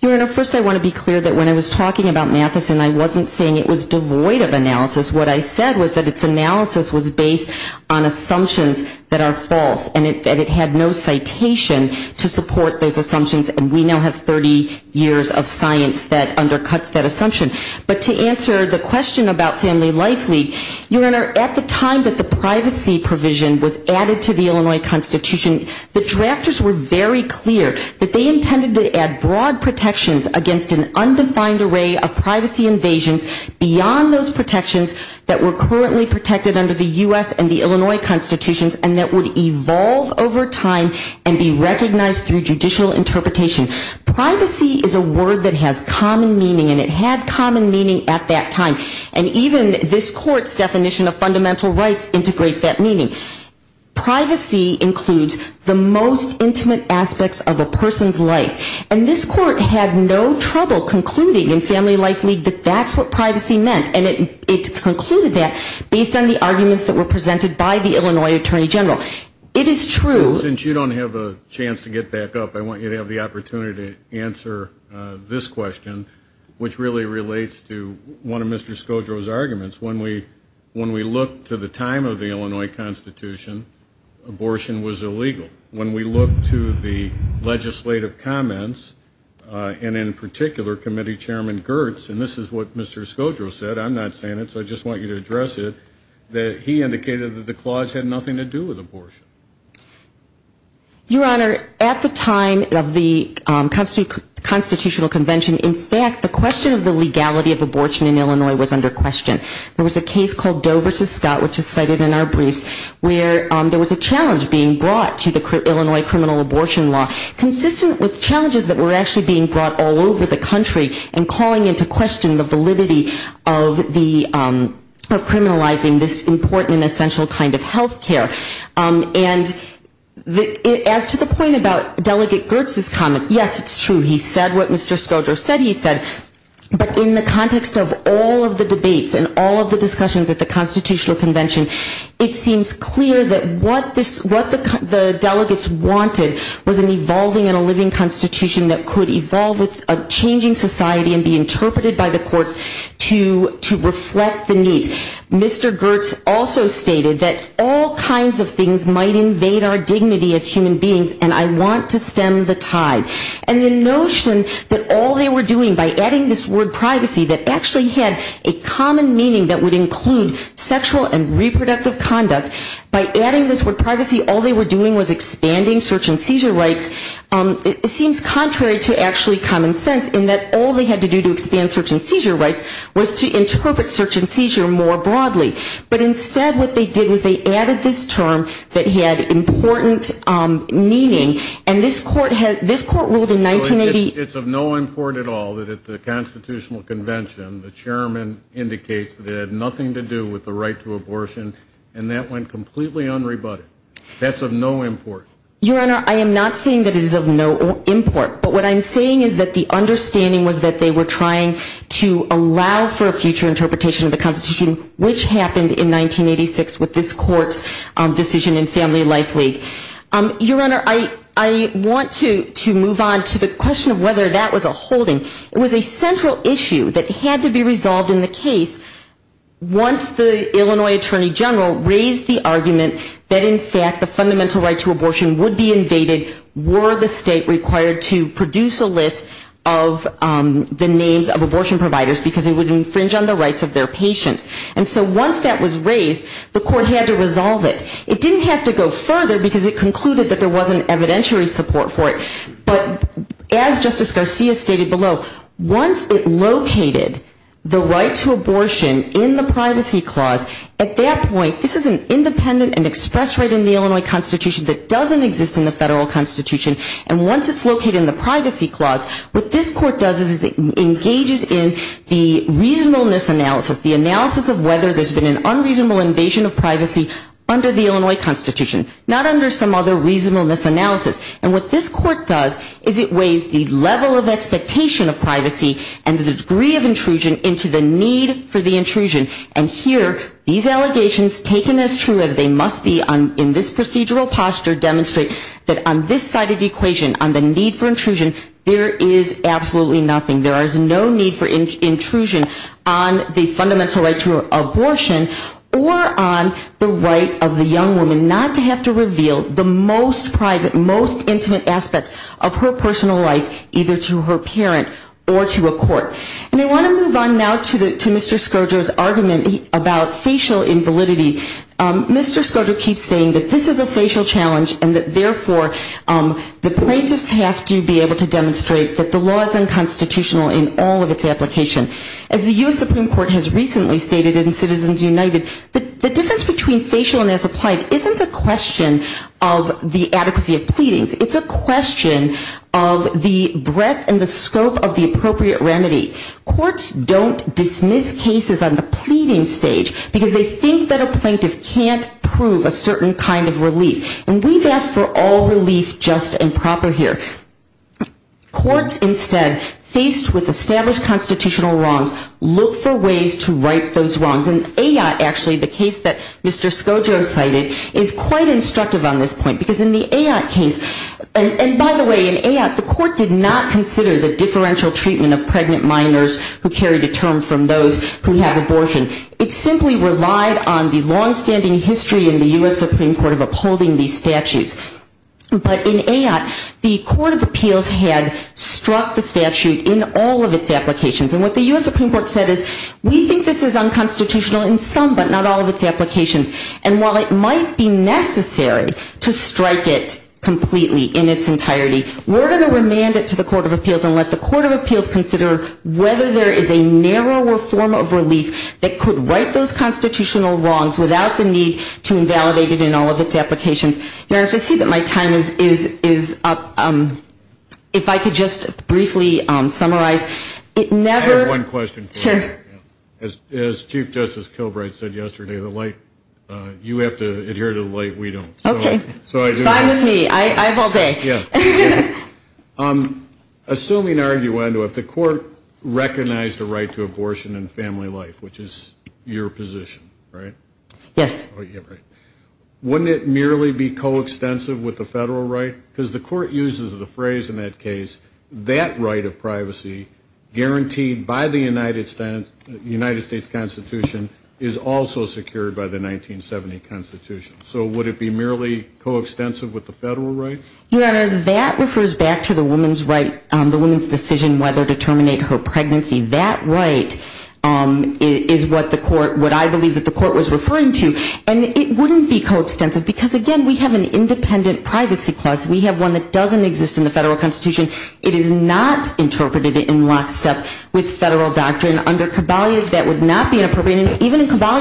Your Honor, first I want to be clear that when I was talking about Mathison, I wasn't saying it was devoid of analysis. What I said was that its analysis was based on assumptions that are false. And it had no citation to support those assumptions. And we now have 30 years of science that undercuts that assumption. But to answer the question about Family Life League, Your Honor, at the time that the privacy provision was added to the Illinois Constitution, the drafters were very clear that they intended to add broad protections against an undefined array of privacy invasions beyond those protections that were currently protected under the U.S. and the Illinois Constitution and that would evolve over time and be recognized through judicial interpretation. Privacy is a word that has common meaning, and it had common meaning at that time. And even this Court's definition of fundamental rights integrates that meaning. Privacy includes the most intimate aspects of a person's life. And this Court had no trouble concluding in Family Life League that that's what privacy meant. And it concluded that based on the arguments that were presented by the Illinois Attorney General. It is true. Since you don't have a chance to get back up, I want you to have the opportunity to answer this question, which really relates to one of Mr. Skodro's arguments. When we look to the time of the Illinois Constitution, abortion was illegal. When we look to the legislative comments, and in particular, Committee Chairman Gertz, and this is what Mr. Skodro said, I'm not saying it, so I just want you to address it, that he indicated that the clause had nothing to do with abortion. Your Honor, at the time of the Constitutional Convention, in fact, the question of the legality of abortion in Illinois was under question. There was a case called Dover v. Scott, which is cited in our brief, where there was a challenge being brought to the Illinois criminal abortion law, consistent with challenges that were actually being brought all over the country, and calling into question the validity of criminalizing this important and essential kind of health care. And as to the point about Delegate Gertz's comment, yes, it's true, he said what Mr. Skodro said he said, but in the context of all of the debates and all of the discussions at the Constitutional Convention, it seems clear that what the delegates wanted was an evolving and a living Constitution that could evolve with a changing society and be interpreted by the courts to reflect the needs. Mr. Gertz also stated that all kinds of things might invade our dignity as human beings, and I want to stem the tide. And the notion that all they were doing, by adding this word privacy, that actually had a common meaning that would include sexual and reproductive conduct, by adding this word privacy all they were doing was expanding search and seizure rights, it seems contrary to actually common sense in that all they had to do to expand search and seizure rights was to interpret search and seizure more broadly. But instead what they did was they added this term that had important meaning, and this court ruled in 1980. It's of no import at all that at the Constitutional Convention the chairman indicates that it had nothing to do with the right to abortion, and that went completely unrebutted. That's of no import. Your Honor, I am not saying that it is of no import, but what I'm saying is that the understanding was that they were trying to allow for a future interpretation of the Constitution, which happened in 1986 with this court's decision in Family Life League. Your Honor, I want to move on to the question of whether that was a holding. It was a central issue that had to be resolved in the case once the Illinois Attorney General raised the argument that in fact the fundamental right to abortion would be invaded were the state required to produce a list of the names of abortion providers because it would infringe on the rights of their patients. And so once that was raised, the court had to resolve it. It didn't have to go further because it concluded that there wasn't evidentiary support for it, but as Justice Garcia stated below, once it located the right to abortion in the Privacy Clause, at that point this is an independent and express right in the Illinois Constitution that doesn't exist in the federal Constitution, and once it's located in the Privacy Clause, what this court does is it engages in the reasonableness analysis, the analysis of whether there's been an unreasonable invasion of privacy under the Illinois Constitution, not under some other reasonableness analysis. And what this court does is it weighs the level of expectation of privacy and the degree of intrusion into the need for the intrusion. And here these allegations, taken as true as they must be in this procedural posture, demonstrate that on this side of the equation, on the need for intrusion, there is absolutely nothing. There is no need for intrusion on the fundamental right to abortion or on the right of the young woman not to have to reveal the most private, most intimate aspects of her personal life, either to her parents or to a court. And I want to move on now to Mr. Scourger's argument about facial invalidity. Mr. Scourger keeps saying that this is a facial challenge and that, therefore, the plaintiff has to be able to demonstrate that the law is unconstitutional in all of its application. As the U.S. Supreme Court has recently stated in Citizens United, the difference between facial and as applied isn't a question of the adequacy of pleadings. It's a question of the breadth and the scope of the appropriate remedy. Courts don't dismiss cases on the pleading stage because they think that a plaintiff can't prove a certain kind of relief. And we've asked for all relief just and proper here. Courts, instead, faced with established constitutional wrongs, look for ways to right those wrongs. In AYOT, actually, the case that Mr. Scourger cited is quite instructive on this point because in the AYOT case, and by the way, in AYOT, the court did not consider the differential treatment of pregnant minors who carried a term from those who have abortion. It simply relied on the longstanding history in the U.S. Supreme Court of upholding these statutes. But in AYOT, the Court of Appeals had struck the statute in all of its applications. And what the U.S. Supreme Court said is, we think this is unconstitutional in some, but not all, of its applications. And while it might be necessary to strike it completely in its entirety, we're going to remand it to the Court of Appeals and let the Court of Appeals consider whether there is a narrower form of relief that could right those constitutional wrongs without the need to invalidate it in all of its applications. Now, I can see that my time is up. If I could just briefly summarize. I have one question for you. Sure. As Chief Justice Kilbright said yesterday, you have to adhere to the light we don't. Okay. Fine with me. I have all day. Assuming, arguably, if the court recognized the right to abortion and family life, which is your position, right? Yes. Wouldn't it merely be coextensive with the federal right? Because the court uses the phrase in that case, that right of privacy guaranteed by the United States Constitution is also secured by the 1970 Constitution. So would it be merely coextensive with the federal right? Your Honor, that refers back to the woman's right, the woman's decision whether to terminate her pregnancy. That right is what the court, what I believe that the court was referring to. And it wouldn't be coextensive because, again, we have an independent privacy clause. We have one that doesn't exist in the federal constitution. It is not interpreted in lockstep with federal doctrine. Under Caballé, that would not be appropriate, even in Caballé.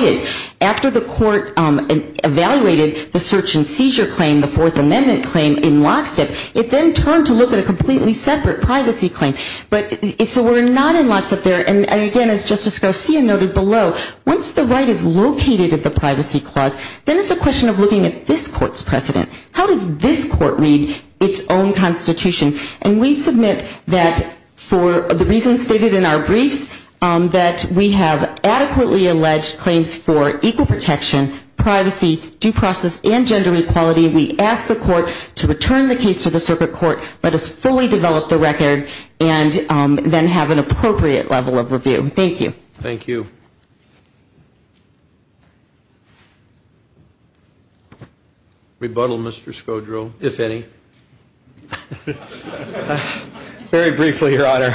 After the court evaluated the search and seizure claim, the Fourth Amendment claim in lockstep, it then turned to look at a completely separate privacy claim. But if it were not in lockstep there, and, again, as Justice Garcia noted below, once the right is located at the privacy clause, then it's a question of looking at this court's precedent. How does this court read its own constitution? And we submit that for the reasons stated in our brief, that we have adequately alleged claims for equal protection, privacy, due process, and gender equality. We ask the court to return the case to the circuit court, let us fully develop the record, and then have an appropriate level of review. Thank you. Thank you. Rebuttal, Mr. Scodro. If any. Very briefly, Your Honor.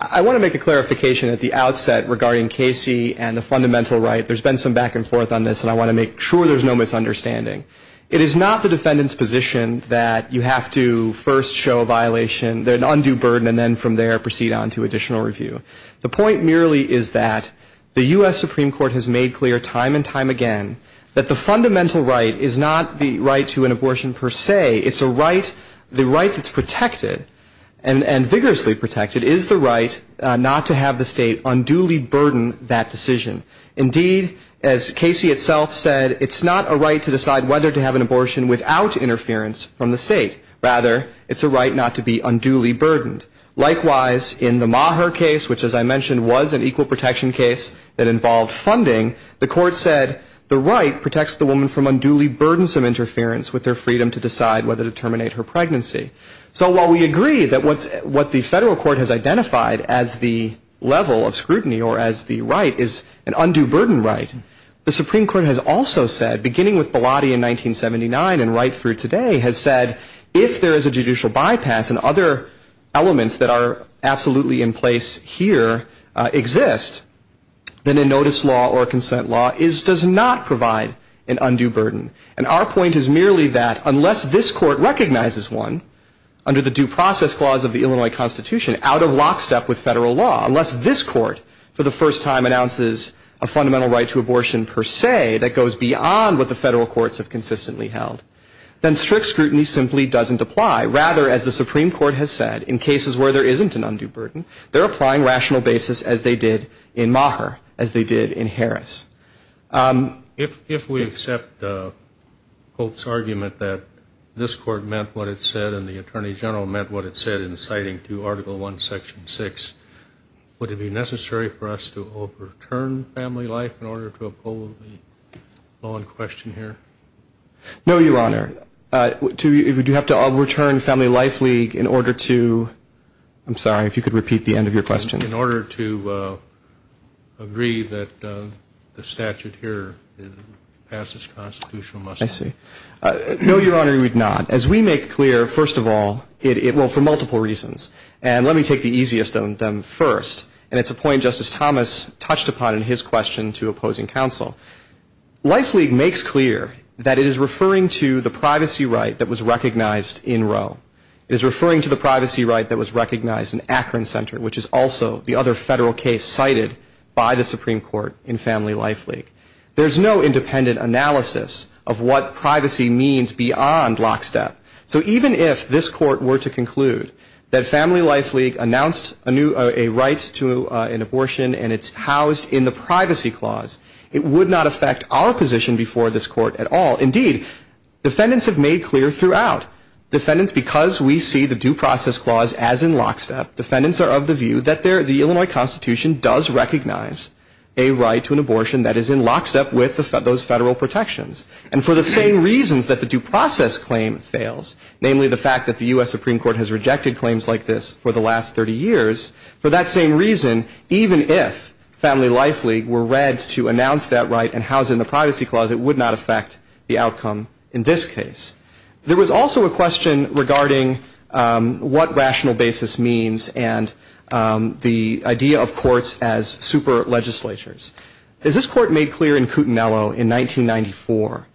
I want to make a clarification at the outset regarding Casey and the fundamental right. There's been some back and forth on this, and I want to make sure there's no misunderstanding. It is not the defendant's position that you have to first show a violation, an undue burden, and then from there proceed on to additional review. The point merely is that the U.S. Supreme Court has made clear time and time again that the fundamental right is not the right to an abortion per se. It's a right, the right that's protected, and vigorously protected, is the right not to have the state unduly burden that decision. Indeed, as Casey itself said, it's not a right to decide whether to have an abortion without interference from the state. Rather, it's a right not to be unduly burdened. Likewise, in the Maher case, which, as I mentioned, was an equal protection case that involved funding, the court said the right protects the woman from unduly burdensome interference with their freedom to decide whether to terminate her pregnancy. So while we agree that what the federal court has identified as the level of scrutiny or as the right is an undue burden right, the Supreme Court has also said, beginning with Bilotti in 1979 and right through today, has said if there is a judicial bypass and other elements that are absolutely in place here exist, then a notice law or a consent law does not provide an undue burden. And our point is merely that unless this court recognizes one, under the due process clause of the Illinois Constitution, out of lockstep with federal law, unless this court for the first time announces a fundamental right to abortion per se that goes beyond what the federal courts have consistently held, then strict scrutiny simply doesn't apply. Rather, as the Supreme Court has said, in cases where there isn't an undue burden, they're applying rational basis as they did in Maher, as they did in Harris. If we accept Pope's argument that this court meant what it said and the Attorney General meant what it said in citing to Article I, Section 6, would it be necessary for us to overturn family life in order to uphold the law in question here? No, Your Honor. Would you have to overturn Family Life League in order to – I'm sorry, if you could repeat the end of your question. In order to agree that the statute here passes constitutional muster. I see. No, Your Honor, you would not. As we make clear, first of all, for multiple reasons. And let me take the easiest of them first. And it's a point Justice Thomas touched upon in his question to opposing counsel. Life League makes clear that it is referring to the privacy right that was recognized in Roe. It is referring to the privacy right that was recognized in Akron Center, which is also the other federal case cited by the Supreme Court in Family Life League. There's no independent analysis of what privacy means beyond lockstep. So even if this court were to conclude that Family Life League announced a right to an abortion and it's housed in the privacy clause, it would not affect our position before this court at all. Indeed, defendants have made clear throughout. Defendants, because we see the due process clause as in lockstep, defendants are of the view that the Illinois Constitution does recognize a right to an abortion that is in lockstep with those federal protections. And for the same reasons that the due process claim fails, namely the fact that the U.S. Supreme Court has rejected claims like this for the last 30 years, for that same reason, even if Family Life League were read to announce that right and housed in the privacy clause, it would not affect the outcome in this case. There was also a question regarding what rational basis means and the idea of courts as super legislatures. As this court made clear in Coutinello in 1994,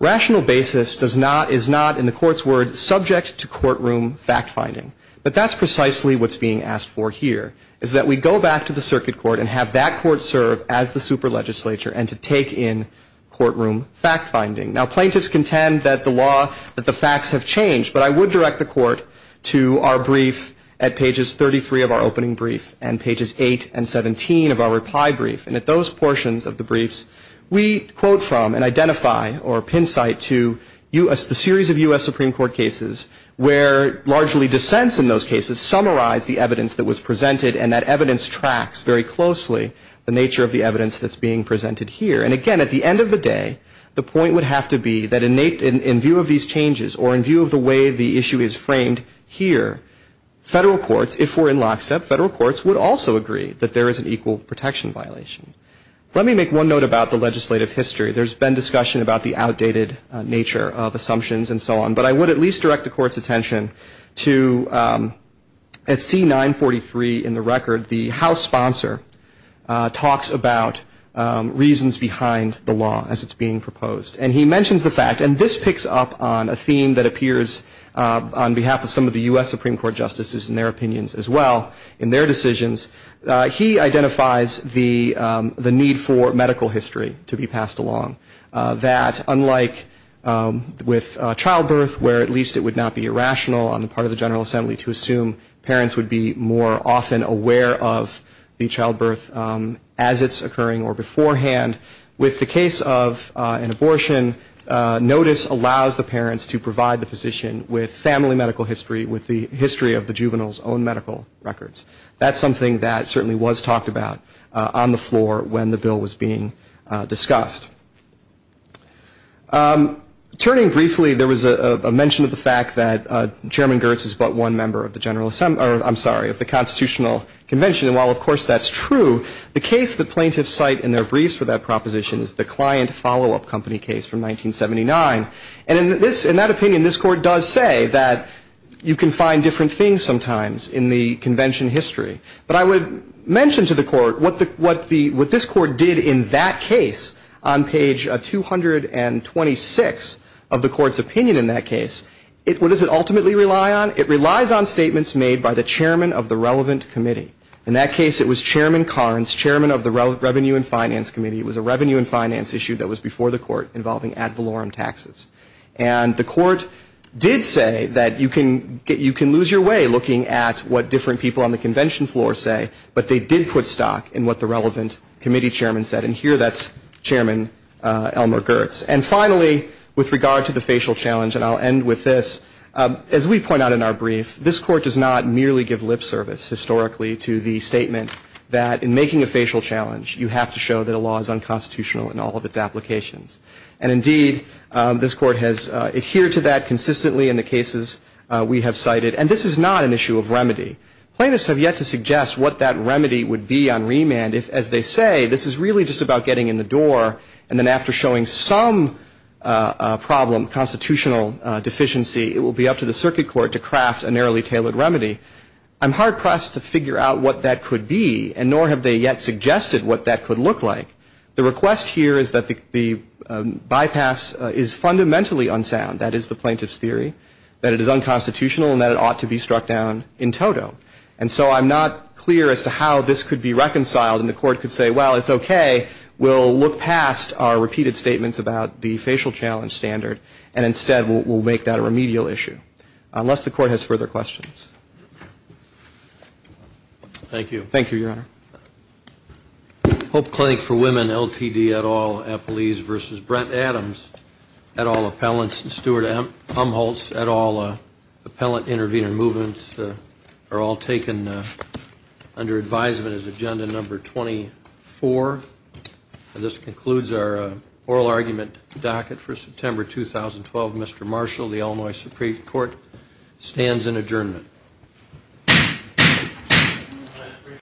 rational basis is not, in the court's word, subject to courtroom fact-finding. But that's precisely what's being asked for here, is that we go back to the circuit court and have that court serve as the super legislature and to take in courtroom fact-finding. Now, plaintiffs contend that the facts have changed, but I would direct the court to our brief at pages 33 of our opening brief and pages 8 and 17 of our reply brief. And at those portions of the briefs, we quote from and identify or pincite to a series of U.S. Supreme Court cases where largely dissents in those cases summarize the evidence that was presented and that evidence tracks very closely the nature of the evidence that's being presented here. And again, at the end of the day, the point would have to be that in view of these changes or in view of the way the issue is framed here, federal courts, if we're in lockstep, federal courts would also agree that there is an equal protection violation. Let me make one note about the legislative history. There's been discussion about the outdated nature of assumptions and so on, but I would at least direct the court's attention to at C943 in the record, the House sponsor talks about reasons behind the law as it's being proposed. And he mentions the fact, and this picks up on a theme that appears on behalf of some of the U.S. Supreme Court justices in their opinions as well in their decisions. He identifies the need for medical history to be passed along, that unlike with childbirth, where at least it would not be irrational on the part of the General Assembly to assume parents would be more often aware of the childbirth as it's occurring or beforehand, with the case of an abortion, notice allows the parents to provide the physician with family medical history, with the history of the juvenile's own medical records. That's something that certainly was talked about on the floor when the bill was being discussed. Turning briefly, there was a mention of the fact that Chairman Girtz is but one member of the Constitutional Convention, and while of course that's true, the case the plaintiffs cite in their briefs for that proposition is the client follow-up company case from 1979. And in that opinion, this court does say that you can find different things sometimes in the Convention history, but I would mention to the court what this court did in that case on page 226 of the court's opinion in that case. What does it ultimately rely on? It relies on statements made by the chairman of the relevant committee. In that case, it was Chairman Carnes, chairman of the Revenue and Finance Committee. It was a revenue and finance issue that was before the court involving ad valorem taxes. And the court did say that you can lose your way looking at what different people on the convention floor say, but they did put stock in what the relevant committee chairman said, and here that's Chairman Elmer Girtz. And finally, with regard to the facial challenge, and I'll end with this, as we point out in our brief, this court does not merely give lip service historically to the statement that in making a facial challenge, you have to show that a law is unconstitutional in all of its applications. And indeed, this court has adhered to that consistently in the cases we have cited, and this is not an issue of remedy. Plaintiffs have yet to suggest what that remedy would be on remand. As they say, this is really just about getting in the door, and then after showing some problem, constitutional deficiency, it will be up to the circuit court to craft a narrowly tailored remedy. I'm hard-pressed to figure out what that could be, and nor have they yet suggested what that could look like. The request here is that the bypass is fundamentally unsound, that is the plaintiff's theory, that it is unconstitutional and that it ought to be struck down in toto. And so I'm not clear as to how this could be reconciled, and the court could say, well, it's okay, we'll look past our repeated statements about the facial challenge standard, and instead we'll make that a remedial issue, unless the court has further questions. Thank you. Thank you, Your Honor. Hope Clinic for Women, LTD, et al., Appleese v. Brett Adams, et al., appellants, and Stuart Umholtz, et al., appellant intervenor movements are all taken under advisement as agenda number 24. And this concludes our oral argument docket for September 2012. Mr. Marshall, the Illinois Supreme Court, stands in adjournment.